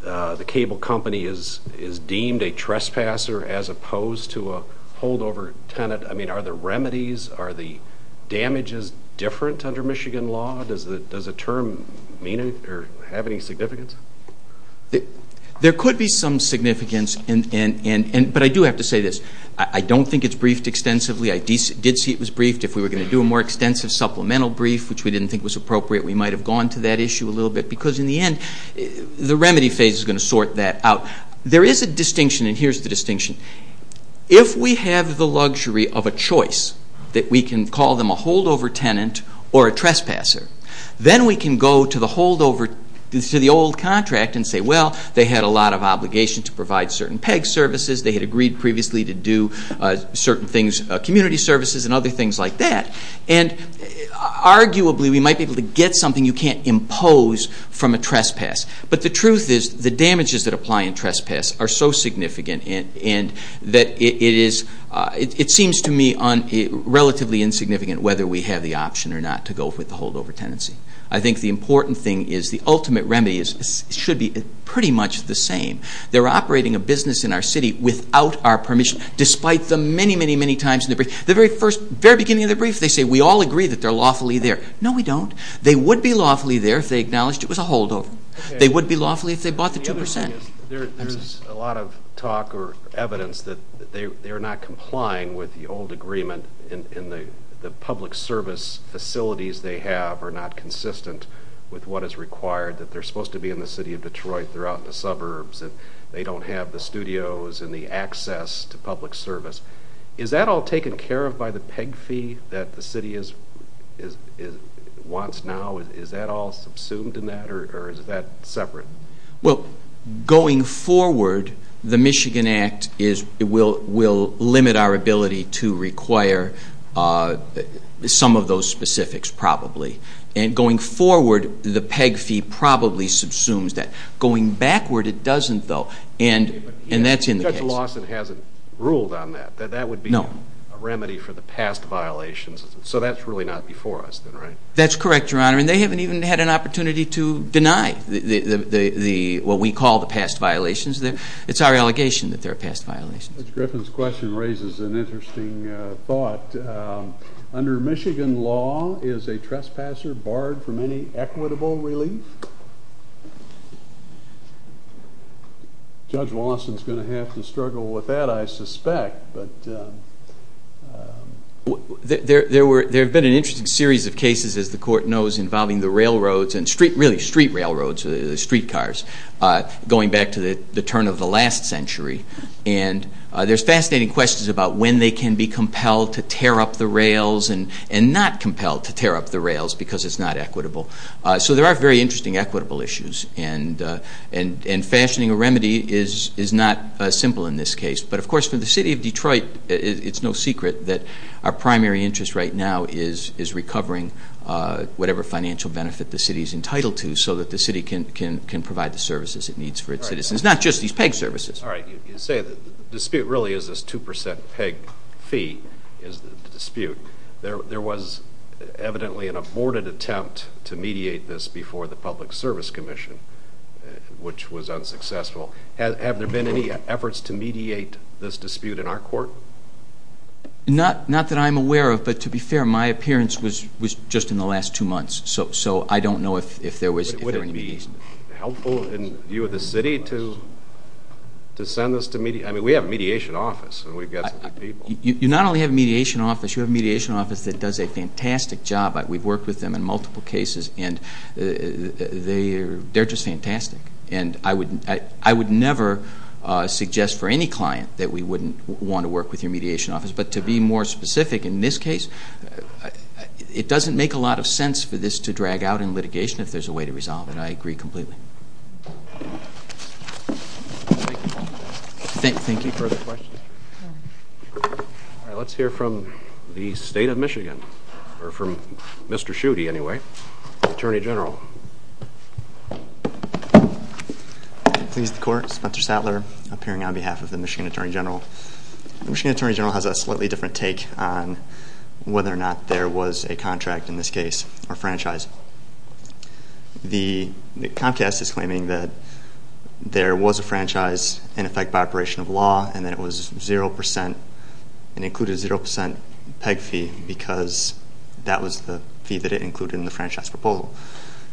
the cable company is deemed a trespasser as opposed to a holdover tenant? I mean, are the remedies, are the damages different under Michigan law? Does the term have any significance? There could be some significance, but I do have to say this. I don't think it's briefed extensively. I did see it was briefed. If we were going to do a more extensive supplemental brief, which we didn't think was appropriate, we might have gone to that issue a little bit, because in the end, the remedy phase is going to sort that out. There is a distinction, and here's the distinction. If we have the luxury of a choice that we can call them a holdover tenant or a trespasser, then we can go to the old contract and say, well, they had a lot of obligation to provide certain PEG services. They had agreed previously to do certain things, community services and other things like that. And arguably, we might be able to get something you can't impose from a trespass. But the truth is, the damages that apply in trespass are so significant, and it seems to me relatively insignificant whether we have the option or not to go with the holdover tenancy. I think the important thing is the ultimate remedy should be pretty much the same. They're operating a business in our city without our permission, despite the many, many, many times in the brief. The very beginning of the brief, they say we all agree that they're lawfully there. No, we don't. They would be lawfully there if they acknowledged it was a holdover. They would be lawfully if they bought the 2%. There's a lot of talk or evidence that they're not complying with the old agreement and the public service facilities they have are not consistent with what is required, that they're supposed to be in the city of Detroit throughout the suburbs, and they don't have the studios and the access to public service. Is that all taken care of by the PEG fee that the city wants now? Is that all subsumed in that, or is that separate? Well, going forward, the Michigan Act will limit our ability to require some of those specifics, probably. And going forward, the PEG fee probably subsumes that. Going backward, it doesn't, though, and that's in the case. Judge Lawson hasn't ruled on that, that that would be a remedy for the past violations. So that's really not before us, then, right? That's correct, Your Honor, and they haven't even had an opportunity to deny what we call the past violations. It's our allegation that they're past violations. Judge Griffin's question raises an interesting thought. Under Michigan law, is a trespasser barred from any equitable relief? Judge Lawson's going to have to struggle with that, I suspect. There have been an interesting series of cases, as the Court knows, involving the railroads, and really street railroads, the streetcars, going back to the turn of the last century. And there's fascinating questions about when they can be compelled to tear up the rails and not compelled to tear up the rails because it's not equitable. So there are very interesting equitable issues, and fashioning a remedy is not simple in this case. But, of course, for the city of Detroit, it's no secret that our primary interest right now is recovering whatever financial benefit the city is entitled to so that the city can provide the services it needs for its citizens, not just these peg services. All right. You say the dispute really is this 2% peg fee dispute. There was evidently an aborted attempt to mediate this before the Public Service Commission, which was unsuccessful. Have there been any efforts to mediate this dispute in our court? Not that I'm aware of, but to be fair, my appearance was just in the last two months. So I don't know if there was any mediation. Would it be helpful in view of the city to send this to mediate? I mean, we have a mediation office, and we've got good people. You not only have a mediation office, you have a mediation office that does a fantastic job. We've worked with them in multiple cases, and they're just fantastic. And I would never suggest for any client that we wouldn't want to work with your mediation office, but to be more specific, in this case, it doesn't make a lot of sense for this to drag out in litigation if there's a way to resolve it, and I agree completely. Thank you. Further questions? All right. Let's hear from the State of Michigan, or from Mr. Schutte, anyway, the Attorney General. Good evening, court. Spencer Statler, appearing on behalf of the Michigan Attorney General. The Michigan Attorney General has a slightly different take on whether or not there was a contract, in this case, or franchise. The contest is claiming that there was a franchise in effect by operation of law, and that it was 0% and included a 0% PEG fee because that was the fee that it included in the franchise proposal.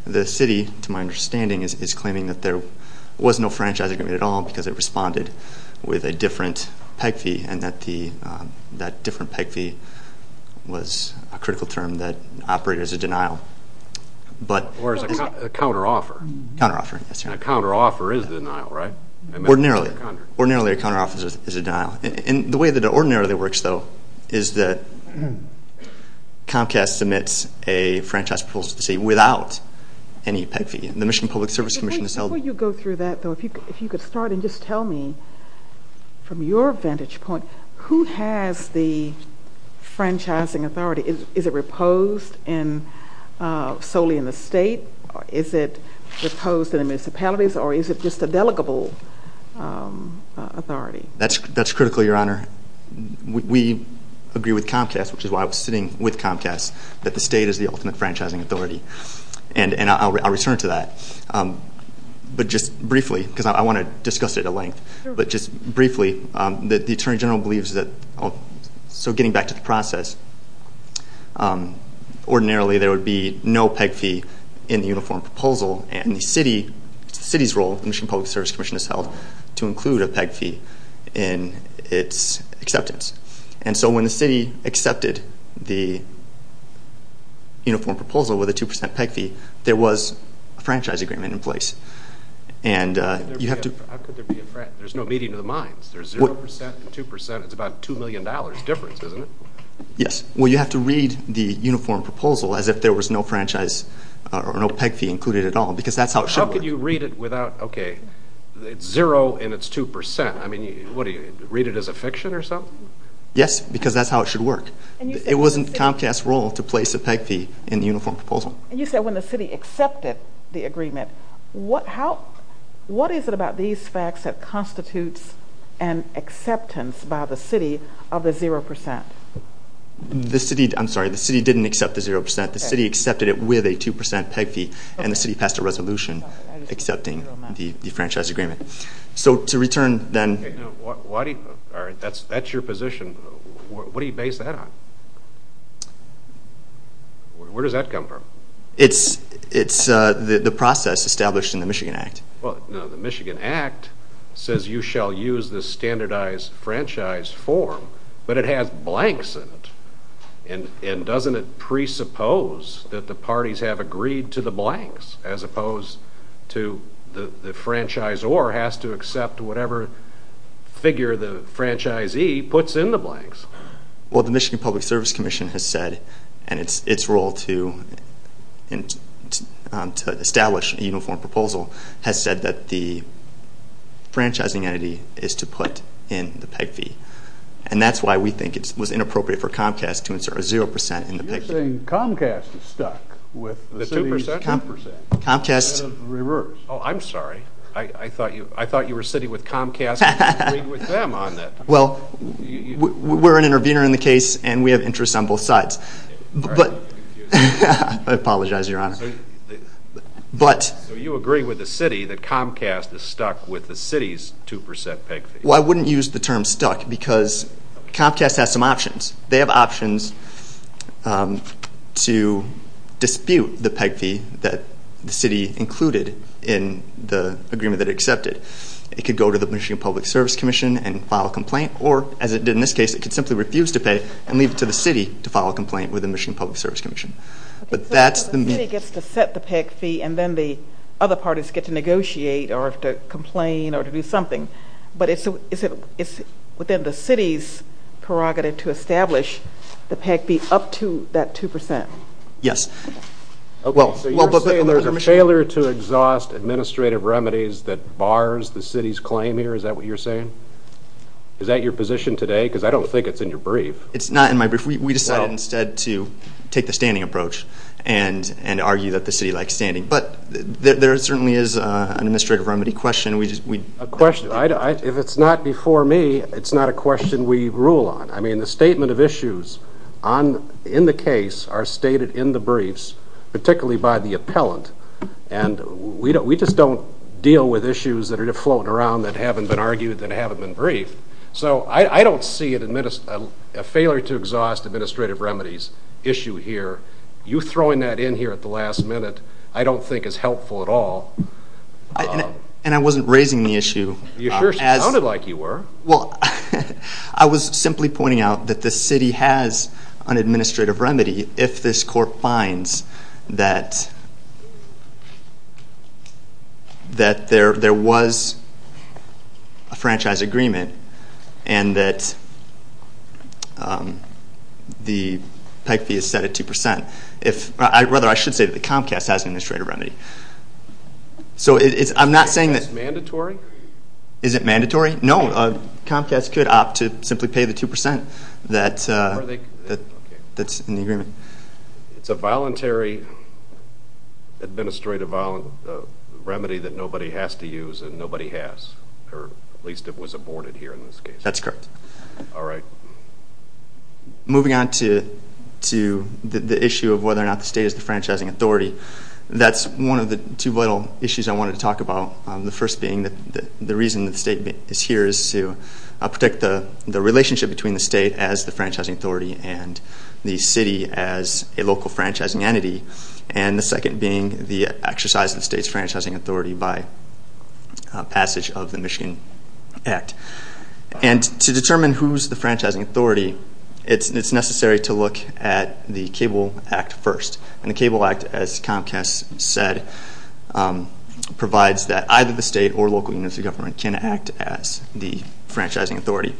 The city, to my understanding, is claiming that there was no franchise agreement at all because it responded with a different PEG fee, and that different PEG fee was a critical term that operated as a denial. Or as a counteroffer. Counteroffer, yes. A counteroffer is a denial, right? Ordinarily. Ordinarily a counteroffer is a denial. And the way that it ordinarily works, though, is that Comcast submits a franchise proposal to the state without any PEG fee, and the Michigan Public Service Commission has held it. Before you go through that, though, if you could start and just tell me, from your vantage point, who has the franchising authority? Is it reposed solely in the state? Is it reposed in the municipalities, or is it just a delegable authority? That's critical, Your Honor. We agree with Comcast, which is why I was sitting with Comcast, that the state is the ultimate franchising authority. And I'll return to that. But just briefly, because I want to discuss it at length, but just briefly, the Attorney General believes that, so getting back to the process, ordinarily there would be no PEG fee in the uniform proposal, and the city's role, the Michigan Public Service Commission has held, to include a PEG fee in its acceptance. And so when the city accepted the uniform proposal with a 2% PEG fee, there was a franchise agreement in place. And you have to... There's no meeting of the minds. There's 0% and 2%, it's about $2 million difference, isn't it? Yes. Well, you have to read the uniform proposal as if there was no franchise, or no PEG fee included at all, because that's how it should work. How could you read it without, okay, it's 0% and it's 2%. I mean, what, do you read it as a fiction or something? Yes, because that's how it should work. It wasn't Comcast's role to place a PEG fee in the uniform proposal. And you said when the city accepted the agreement, what is it about these facts that constitutes an acceptance by the city of the 0%? I'm sorry, the city didn't accept the 0%. The city accepted it with a 2% PEG fee, and the city passed a resolution accepting the franchise agreement. So to return then... All right, that's your position. What do you base that on? Where does that come from? It's the process established in the Michigan Act. Well, no, the Michigan Act says you shall use the standardized franchise form, but it has blanks in it. And doesn't it presuppose that the parties have agreed to the blanks as opposed to the franchisor has to accept whatever figure the franchisee puts in the blanks? Well, the Michigan Public Service Commission has said, and its role to establish a uniform proposal, has said that the franchising entity is to put in the PEG fee. And that's why we think it was inappropriate for Comcast to insert a 0% in the PEG fee. So you're saying Comcast is stuck with the city's 2% instead of reverse. Oh, I'm sorry. I thought you were sitting with Comcast and agreeing with them on that. Well, we're an intervener in the case, and we have interests on both sides. I apologize, Your Honor. So you agree with the city that Comcast is stuck with the city's 2% PEG fee. Well, I wouldn't use the term stuck because Comcast has some options. They have options to dispute the PEG fee that the city included in the agreement that it accepted. It could go to the Michigan Public Service Commission and file a complaint, or, as it did in this case, it could simply refuse to pay and leave it to the city to file a complaint with the Michigan Public Service Commission. But the city gets to set the PEG fee, and then the other parties get to negotiate or to complain or to do something. But is it within the city's prerogative to establish the PEG fee up to that 2%? Yes. So you're saying there's a failure to exhaust administrative remedies that bars the city's claim here? Is that what you're saying? Is that your position today? Because I don't think it's in your brief. It's not in my brief. We decided instead to take the standing approach and argue that the city likes standing. But there certainly is an administrative remedy question. If it's not before me, it's not a question we rule on. I mean, the statement of issues in the case are stated in the briefs, particularly by the appellant. And we just don't deal with issues that are floating around that haven't been argued that haven't been briefed. So I don't see a failure to exhaust administrative remedies issue here. You throwing that in here at the last minute, I don't think it's helpful at all. And I wasn't raising the issue. You sure sounded like you were. Well, I was simply pointing out that the city has an administrative remedy if this court finds that there was a franchise agreement and that the PEC fee is set at 2%. Rather, I should say that the Comcast has an administrative remedy. So I'm not saying that's mandatory. Is it mandatory? No. Comcast could opt to simply pay the 2% that's in the agreement. It's a voluntary administrative remedy that nobody has to use and nobody has. Or at least it was aborted here in this case. That's correct. All right. Moving on to the issue of whether or not the state is the franchising authority, that's one of the two little issues I wanted to talk about. The first being the reason the state is here is to protect the relationship between the state as the franchising authority and the city as a local franchising entity. And the second being the exercise of the state's franchising authority by passage of the Michigan PEC. And to determine who's the franchising authority, it's necessary to look at the Cable Act first. And the Cable Act, as Comcast said, provides that either the state or local units of government can act as the franchising authority.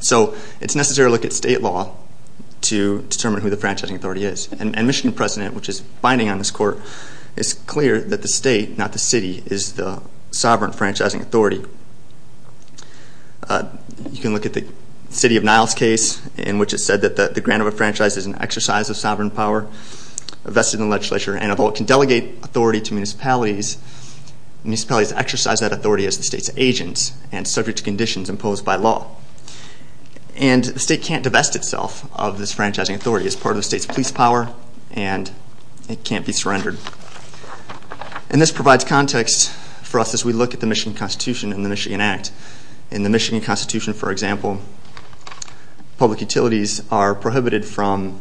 So it's necessary to look at state law to determine who the franchising authority is. And Michigan precedent, which is binding on this court, is clear that the state, not the city, is the sovereign franchising authority. You can look at the City of Niles case in which it said that the grant of a franchise is an exercise of sovereign power vested in the legislature and of all it can delegate authority to municipalities, municipalities exercise that authority as the state's agent and subject to conditions imposed by law. And the state can't divest itself of this franchising authority as part of the state's police power and it can't be surrendered. And this provides context for us as we look at the Michigan Constitution and the Michigan Act. In the Michigan Constitution, for example, public utilities are prohibited from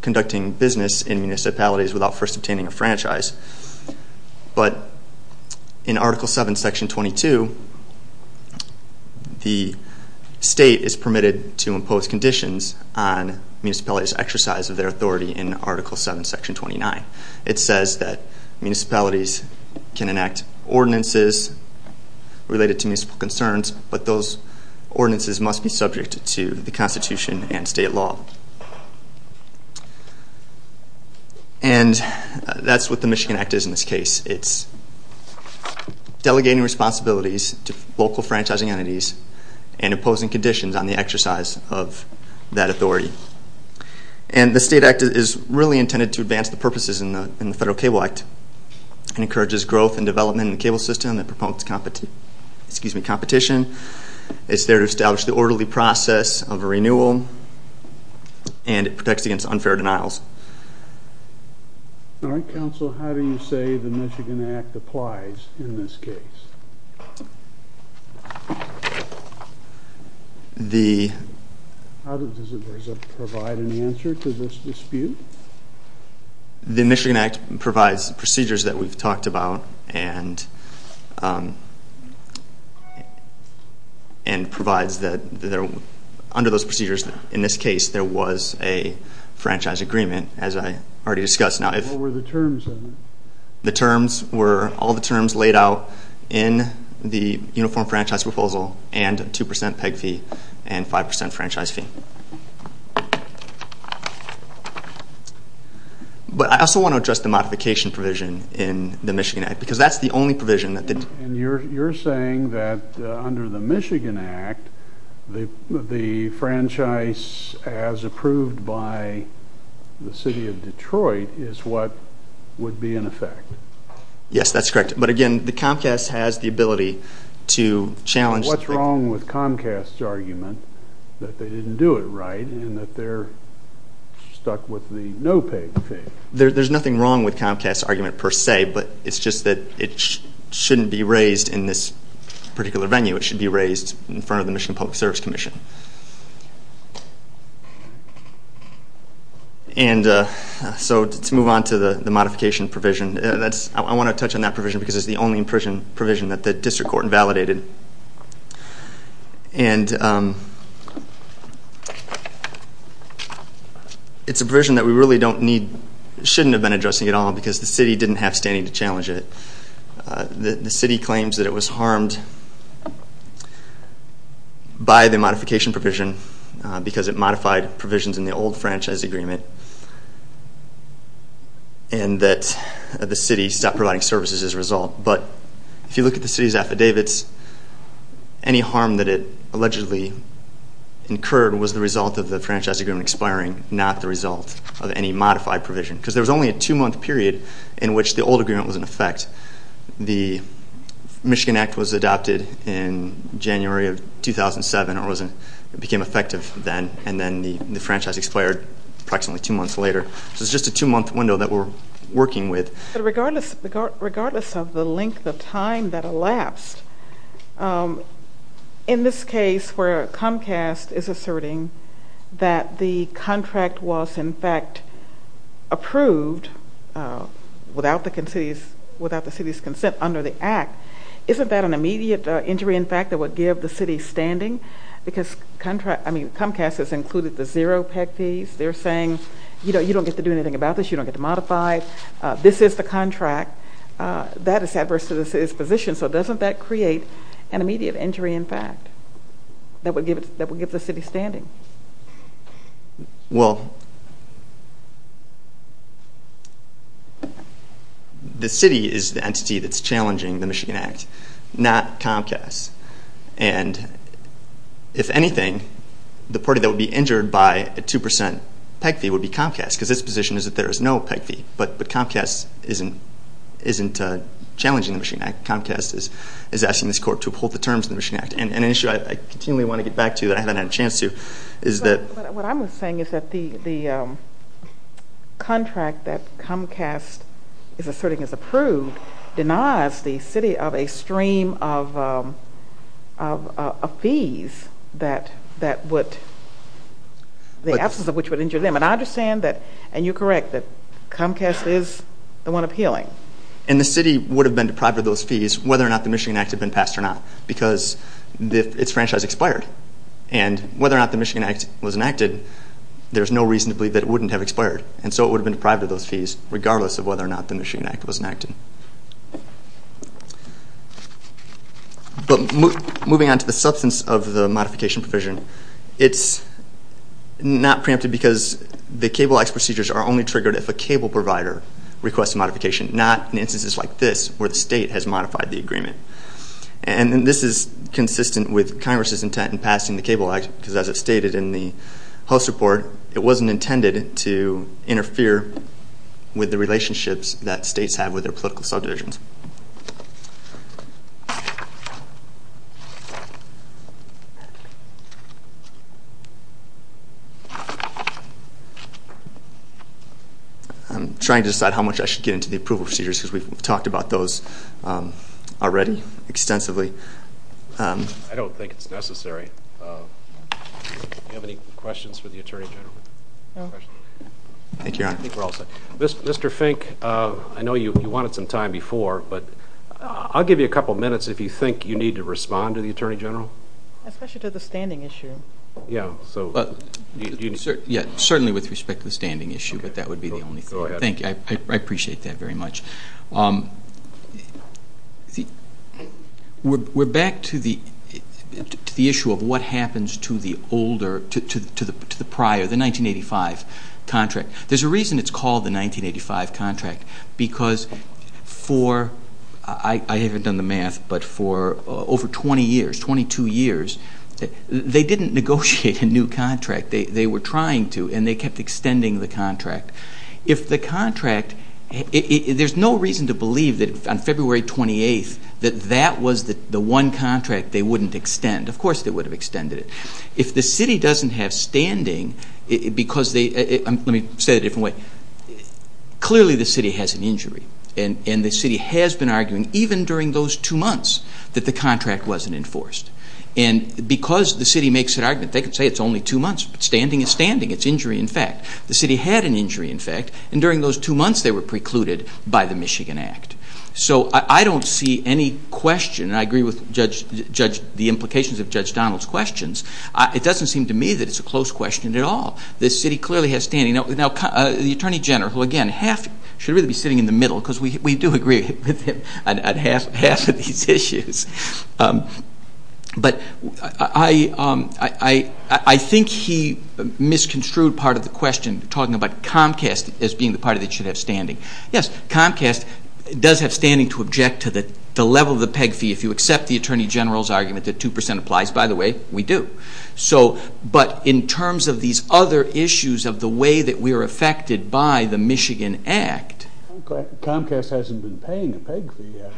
conducting business in municipalities without first obtaining a franchise. But in Article 7, Section 22, the state is permitted to impose conditions on municipalities' exercise of their authority in Article 7, Section 29. It says that municipalities can enact ordinances related to municipal concerns, but those ordinances must be subject to the Constitution and state law. And that's what the Michigan Act is in this case. It's delegating responsibilities to local franchising entities and imposing conditions on the exercise of that authority. And the state act is really intended to advance the purposes in the Federal Cable Act and encourages growth and development in the cable system and promotes competition. It's there to establish the orderly process of renewal and it protects against unfair denials. All right, counsel, how do you say the Michigan Act applies in this case? Does it provide an answer to this dispute? The Michigan Act provides procedures that we've talked about and provides that under those procedures, in this case, there was a franchise agreement as I already discussed. What were the terms of it? The terms were all the terms laid out in the Uniform Franchise Proposal and 2% PEG fee and 5% franchise fee. But I also want to address the modification provision in the Michigan Act because that's the only provision that didn't... And you're saying that under the Michigan Act, the franchise as approved by the city of Detroit is what would be in effect? Yes, that's correct. But again, the Comcast has the ability to challenge... What's wrong with Comcast's argument that they didn't do it right and that they're stuck with the no PEG fee? There's nothing wrong with Comcast's argument per se, but it's just that it shouldn't be raised in this particular venue. It should be raised in front of the Michigan Public Service Commission. And so to move on to the modification provision, I want to touch on that provision because it's the only provision that the district court validated. And it's a provision that we really don't need... shouldn't have been addressing at all because the city didn't have standing to challenge it. The city claims that it was harmed by the modification provision because it modified provisions in the old franchise agreement and that the city stopped providing services as a result. But if you look at the city's affidavits, any harm that it allegedly incurred was the result of the franchise agreement expiring, not the result of any modified provision because there was only a two-month period in which the old agreement was in effect. The Michigan Act was adopted in January of 2007 and it became effective then, and then the franchise expired approximately two months later. So it's just a two-month window that we're working with. But regardless of the length of time that elapsed, in this case where Comcast is asserting that the contract was in fact approved without the city's consent under the Act, isn't that an immediate injury in fact that would give the city standing? Because Comcast has included the zero PEC fees. They're saying, you know, you don't get to do anything about this, you don't get to modify, this is the contract. That is adverse to the city's position, so doesn't that create an immediate injury in fact that would give the city standing? Well, the city is the entity that's challenging the Michigan Act, not Comcast. And if anything, the party that would be injured by a two percent PEC fee would be Comcast because its position is that there is no PEC fee. But Comcast isn't challenging the Michigan Act. Comcast is asking this court to uphold the terms of the Michigan Act. And an issue I continually want to get back to that I haven't had a chance to is that... What I'm saying is that the contract that Comcast is asserting is approved denies the city of a stream of fees that would... And I understand that, and you're correct, that Comcast is the one appealing. And the city would have been deprived of those fees whether or not the Michigan Act had been passed or not because its franchise expired. And whether or not the Michigan Act was enacted, there's no reason to believe that it wouldn't have expired. And so it would have been deprived of those fees regardless of whether or not the Michigan Act was enacted. But moving on to the substance of the modification provision, it's not preempted because the Cable Act procedures are only triggered if a cable provider requests a modification, not in instances like this where the state has modified the agreement. And this is consistent with Congress' intent in passing the Cable Act because as it stated in the host report, it wasn't intended to interfere with the relationships that states have with their political subdivisions. I'm trying to decide how much I should get into the approval procedures because we've talked about those already extensively. I don't think it's necessary. Do you have any questions for the Attorney General? No. Thank you, Your Honor. I think we're all set. Mr. Fink, I know you wanted some time before, but I'll give you a couple of minutes if you think you need to respond to the Attorney General. Especially to the standing issue. Certainly with respect to the standing issue, but that would be the only thing. Thank you. I appreciate that very much. We're back to the issue of what happens to the prior, the 1985 contract. There's a reason it's called the 1985 contract because for, I haven't done the math, but for over 20 years, 22 years, they didn't negotiate a new contract. They were trying to, and they kept extending the contract. If the contract, there's no reason to believe that on February 28th, that that was the one contract they wouldn't extend. Of course they would have extended it. If the city doesn't have standing, because they, let me say it a different way, clearly the city has an injury, and the city has been arguing, even during those two months, that the contract wasn't enforced. Because the city makes an argument, they could say it's only two months, but standing is standing. It's injury in fact. The city had an injury in fact, and during those two months, they were precluded by the Michigan Act. I don't see any question, and I agree with the implications of Judge Donald's questions, it doesn't seem to me that it's a close question at all. The city clearly has standing. The Attorney General, who again, should really be sitting in the middle, because we do agree on half of these issues. But I think he misconstrued part of the question, talking about Comcast as being the party that should have standing. Yes, Comcast does have standing to object to the level of the peg fee, if you accept the Attorney General's argument that 2% applies. By the way, we do. So, but in terms of these other issues of the way that we are affected by the Michigan Act. Comcast hasn't been paying the peg fee yet.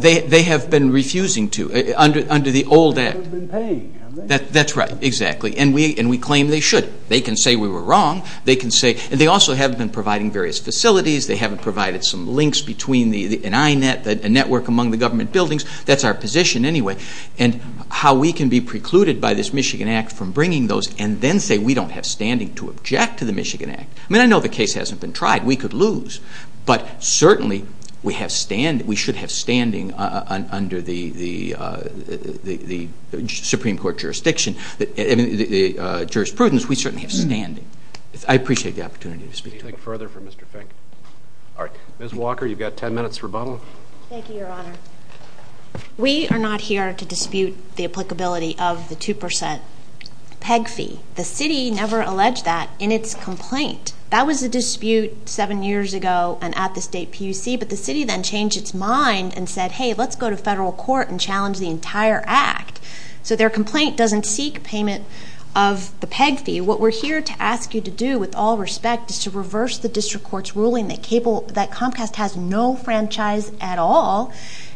They have been refusing to, under the old adage. They haven't been paid. That's right, exactly. And we claim they should. They can say we were wrong, they can say, and they also have been providing various facilities, they have provided some links between the I-Net, the network among the government buildings, that's our position anyway. And how we can be precluded by this Michigan Act from bringing those, and then say we don't have standing to object to the Michigan Act. I mean, I know the case hasn't been tried, we could lose. But certainly, we should have standing under the Supreme Court jurisprudence. We certainly have standing. I appreciate the opportunity to speak. Anything further for Mr. Fink? All right. Ms. Walker, you've got ten minutes for rebuttal. Thank you, Your Honor. We are not here to dispute the applicability of the 2% peg fee. The city never alleged that in its complaint. That was the dispute seven years ago and at the state PUC, but the city then changed its mind and said, hey, let's go to federal court and challenge the entire act. So their complaint doesn't seek payment of the peg fee. What we're here to ask you to do with all respect is to reverse the district court's ruling that Comcast has no franchise at all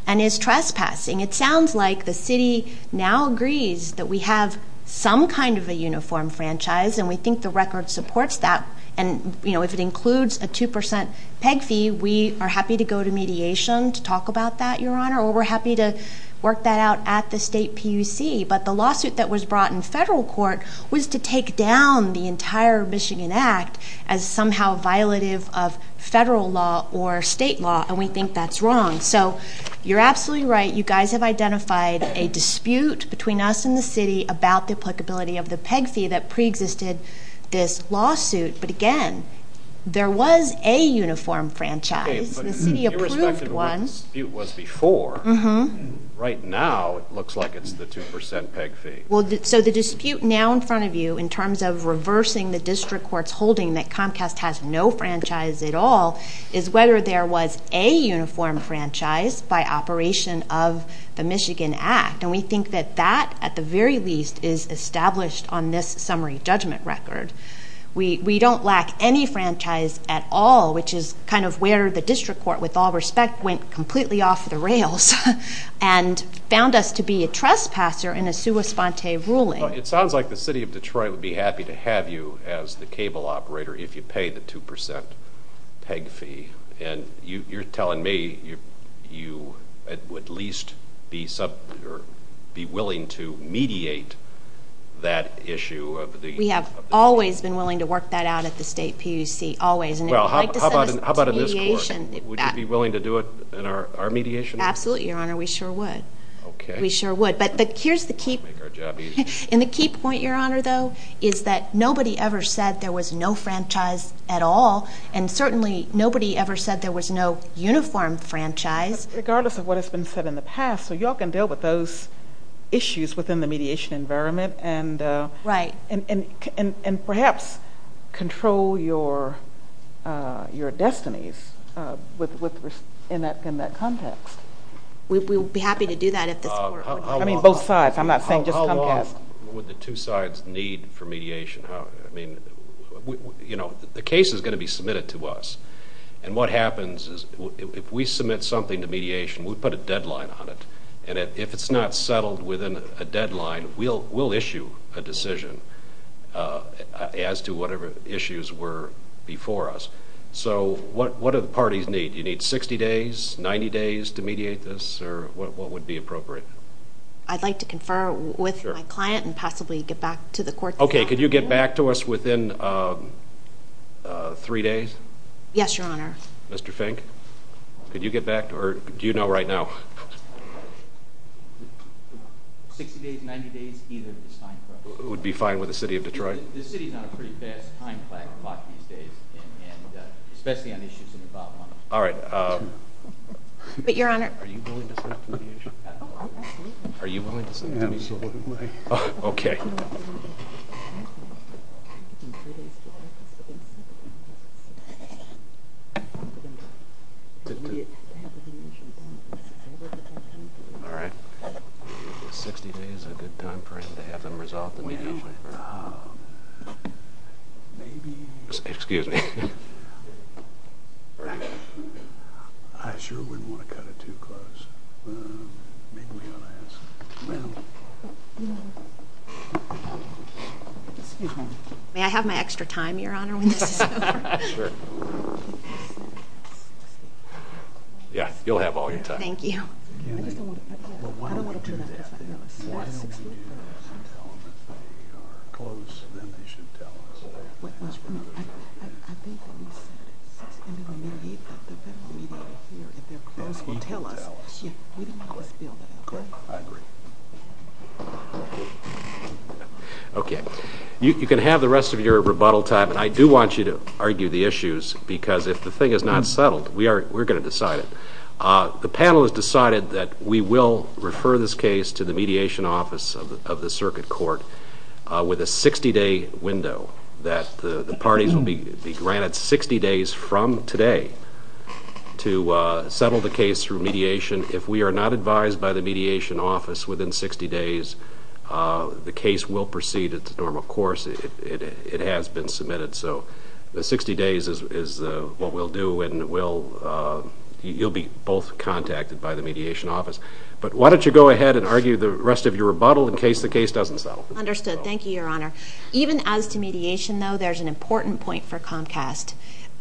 and is trespassing. It sounds like the city now agrees that we have some kind of a uniform franchise and we think the record supports that. And, you know, if it includes a 2% peg fee, we are happy to go to mediation to talk about that, Your Honor, or we're happy to work that out at the state PUC. But the lawsuit that was brought in federal court was to take down the entire Michigan Act as somehow violative of federal law or state law, and we think that's wrong. So you're absolutely right. You guys have identified a dispute between us and the city about the applicability of the peg fee that preexisted this lawsuit. But again, there was a uniform franchise. It's the approved one. But irrespective of what the dispute was before, right now it looks like it's the 2% peg fee. So the dispute now in front of you in terms of reversing the district court's holding that Comcast has no franchise at all is whether there was a uniform franchise by operation of the Michigan Act. And we think that that, at the very least, is established on this summary judgment record. We don't lack any franchise at all, which is kind of where the district court, with all respect, went completely off the rails and found us to be a trespasser in a sua fonte ruling. It sounds like the city of Detroit would be happy to have you as the cable operator if you pay the 2% peg fee. You're telling me you would at least be willing to mediate that issue. We have always been willing to work that out at the state PUC, always. How about in this court? Would you be willing to do it in our mediation? Absolutely, Your Honor. We sure would. We sure would. And the key point, Your Honor, though, is that nobody ever said there was no franchise at all. And certainly nobody ever said there was no uniform franchise. Regardless of what has been said in the past, so you all can deal with those issues within the mediation environment. Right. And perhaps control your destinies in that context. We would be happy to do that at the court. I mean both sides. I'm not saying just one case. How long would the two sides need for mediation? The case is going to be submitted to us. And what happens is if we submit something to mediation, we put a deadline on it. And if it's not settled within a deadline, we'll issue a decision as to whatever issues were before us. So what do the parties need? Do you need 60 days, 90 days to mediate this? Or what would be appropriate? I'd like to confer with my client and possibly get back to the court. Okay. Could you get back to us within three days? Yes, Your Honor. Mr. Fink? Could you get back? Or do you know right now? 60 days, 90 days, either is fine. It would be fine with the City of Detroit? The City is on a pretty bad time flag in Washington State, especially on issues in the bottom line. All right. But, Your Honor. Are you willing to sit through the issue? Are you willing to sit through the issue? Okay. All right. 60 days is a good time frame to have them resolve the mediation. Excuse me. I sure wouldn't want to cut it too close. May I have my extra time, Your Honor? Sure. Yeah, you'll have all your time. Thank you. But why don't we do that? Why don't we tell them that we are closed and then they should tell us? I think we need to tell them. We need to let them know. Okay. I agree. Okay. You can have the rest of your rebuttal time, and I do want you to argue the issues because if the thing is not settled, we're going to decide it. The panel has decided that we will refer this case to the mediation office of the circuit court with a 60-day window, that the parties will be granted 60 days from today to settle the case through mediation. If we are not advised by the mediation office within 60 days, the case will proceed its normal course if it has been submitted. So the 60 days is what we'll do, and you'll be both contacted by the mediation office. But why don't you go ahead and argue the rest of your rebuttal in case the case doesn't settle? Understood. Thank you, Your Honor. Even as to mediation, though, there's an important point for Comcast.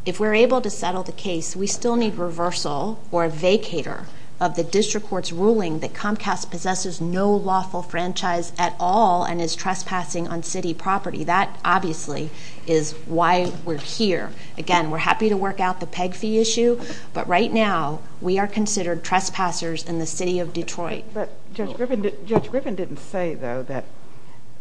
If we're able to settle the case, we still need reversal or a vacator of the district court's ruling that Comcast possesses no lawful franchise at all and is trespassing on city property. That, obviously, is why we're here. Again, we're happy to work out the PEG fee issue, but right now we are considered trespassers in the city of Detroit. But Judge Griffin didn't say, though, that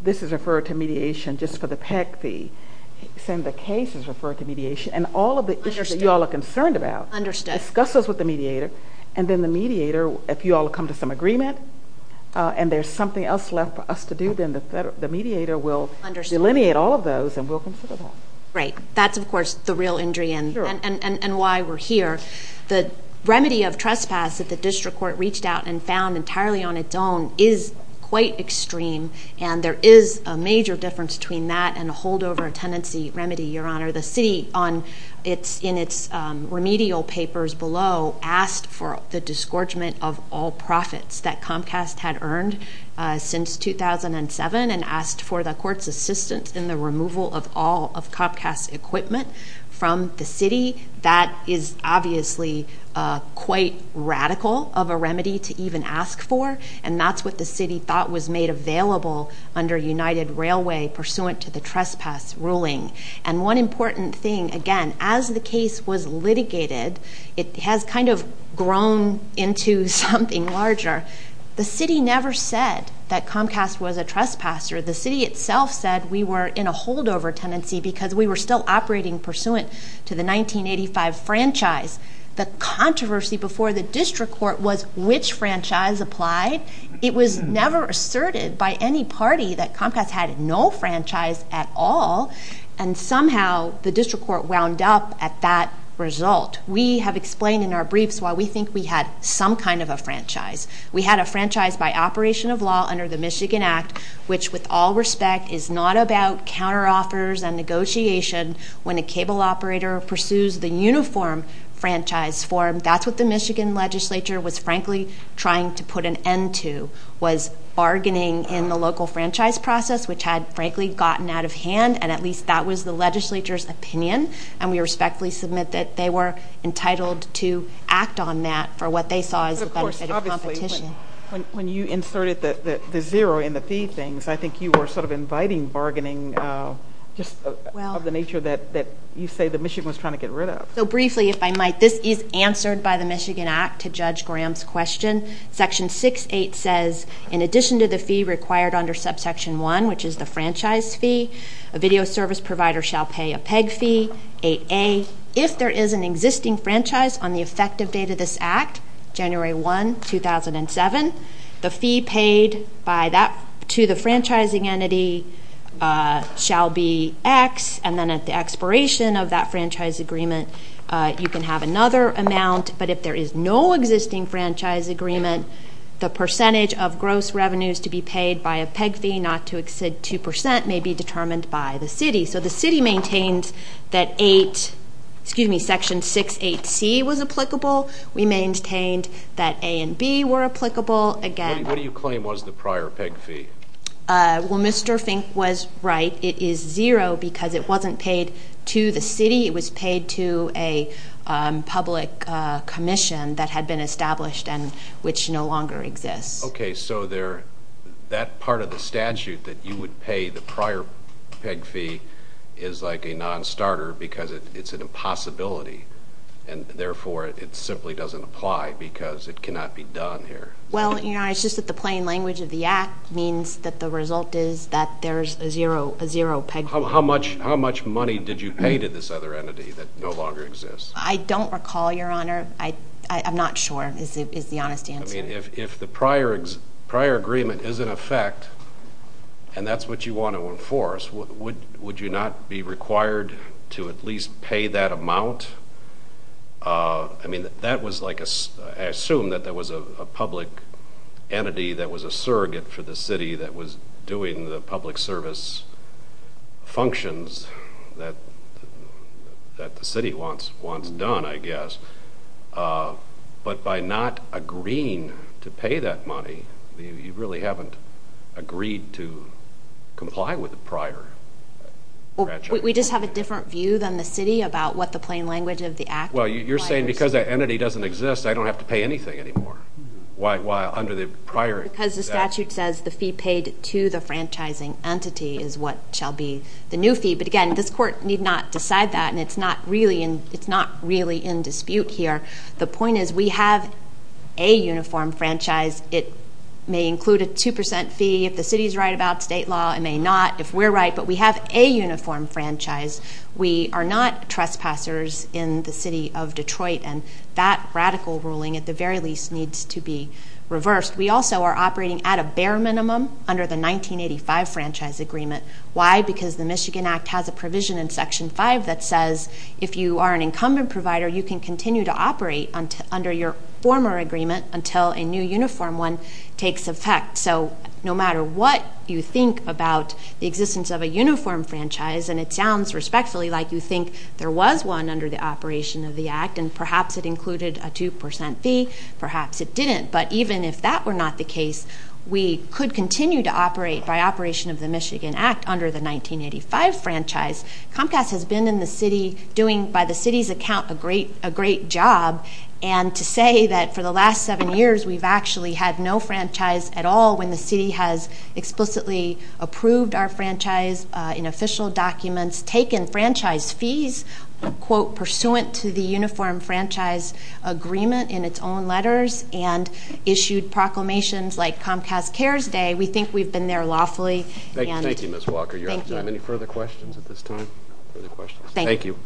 this is referred to mediation just for the PEG fee. He said the case is referred to mediation. And all of the issues that you all are concerned about, discuss those with the mediator, and then the mediator, if you all come to some agreement, and there's something else left for us to do, then the mediator will delineate all of those and we'll consider them. Right. That's, of course, the real injury and why we're here. The remedy of trespass that the district court reached out and found entirely on its own is quite extreme, and there is a major difference between that and a holdover tenancy remedy, Your Honor. The city, in its remedial papers below, asked for the disgorgement of all profits that Comcast had earned since 2007 and asked for the court's assistance in the removal of all of Comcast equipment from the city. That is obviously quite radical of a remedy to even ask for, and that's what the city thought was made available under United Railway pursuant to the trespass ruling. And one important thing, again, as the case was litigated, it has kind of grown into something larger. The city never said that Comcast was a trespasser. The city itself said we were in a holdover tenancy because we were still operating pursuant to the 1985 franchise. The controversy before the district court was which franchise applied. It was never asserted by any party that Comcast had no franchise at all, and somehow the district court wound up at that result. We have explained in our briefs why we think we had some kind of a We had a franchise by operation of law under the Michigan Act, which with all respect is not about counteroffers and negotiation when a cable operator pursues the uniform franchise form. That's what the Michigan legislature was frankly trying to put an end to, was bargaining in the local franchise process, which had frankly gotten out of hand, and at least that was the legislature's opinion, and we respectfully submit that they were entitled to act on that for what they saw as a benefit of competition. When you inserted the zero in the fee thing, I think you were sort of inviting bargaining of the nature that you say that Michigan was trying to get rid of. Briefly, if I might, this is answered by the Michigan Act to Judge Graham's question. Section 6.8 says in addition to the fee required under subsection 1, which is the franchise fee, a video service provider shall pay a PEG fee, if there is an existing franchise on the effective date of this act, January 1, 2007, the fee paid to the franchising entity shall be X, and then at the expiration of that franchise agreement, you can have another amount, but if there is no existing franchise agreement, the percentage of gross revenues to be paid by a PEG fee not to exceed 2% may be determined by the city. So the city maintained that Section 6.8c was applicable. We maintained that A and B were applicable. What do you claim was the prior PEG fee? Well, Mr. Fink was right. It is zero because it wasn't paid to the city. It was paid to a public commission that had been established and which no longer exists. Okay, so that part of the statute that you would pay the prior PEG fee is like a non-starter because it's an impossibility, and therefore it simply doesn't apply because it cannot be done here. Well, Your Honor, it's just that the plain language of the act means that the result is that there's a zero PEG fee. How much money did you pay to this other entity that no longer exists? I don't recall, Your Honor. I'm not sure is the honest answer. If the prior agreement is in effect, and that's what you want to enforce, would you not be required to at least pay that amount? I mean, I assume that there was a public entity that was a surrogate for the city that was doing the public service functions that the city wants done, I guess. But by not agreeing to pay that money, you really haven't agreed to comply with the prior. We just have a different view than the city about what the plain language of the act. Well, you're saying because that entity doesn't exist, I don't have to pay anything anymore. Why? Under the prior. Because the statute says the fee paid to the franchising entity is what shall be the new fee. But again, this court need not decide that, and it's not really in dispute. The point is we have a uniform franchise. It may include a 2% fee if the city is right about state law. It may not if we're right, but we have a uniform franchise. We are not trespassers in the city of Detroit, and that radical ruling at the very least needs to be reversed. We also are operating at a bare minimum under the 1985 franchise agreement. Why? Because the Michigan Act has a provision in Section 5 that says if you are an incumbent provider, you can continue to operate under your former agreement until a new uniform one takes effect. So no matter what you think about the existence of a uniform franchise, and it sounds respectfully like you think there was one under the operation of the act, and perhaps it included a 2% fee, perhaps it didn't, but even if that were not the case, we could continue to operate by operation of the Michigan Act under the 1985 franchise. Comcast has been in the city doing, by the city's account, a great job, and to say that for the last seven years we've actually had no franchise at all when the city has explicitly approved our franchise in official documents, taken franchise fees, quote, pursuant to the uniform franchise agreement in its own letters, and issued proclamations like Comcast Cares Day, we think we've been there lawfully. Thank you, Ms. Walker. Do you have any further questions at this time? Thank you.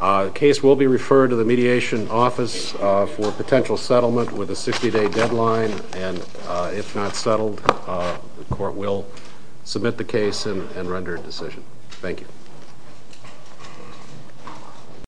The case will be referred to the mediation office for potential settlement with a 60-day deadline, and if not settled, the court will submit the case and render a decision. Thank you.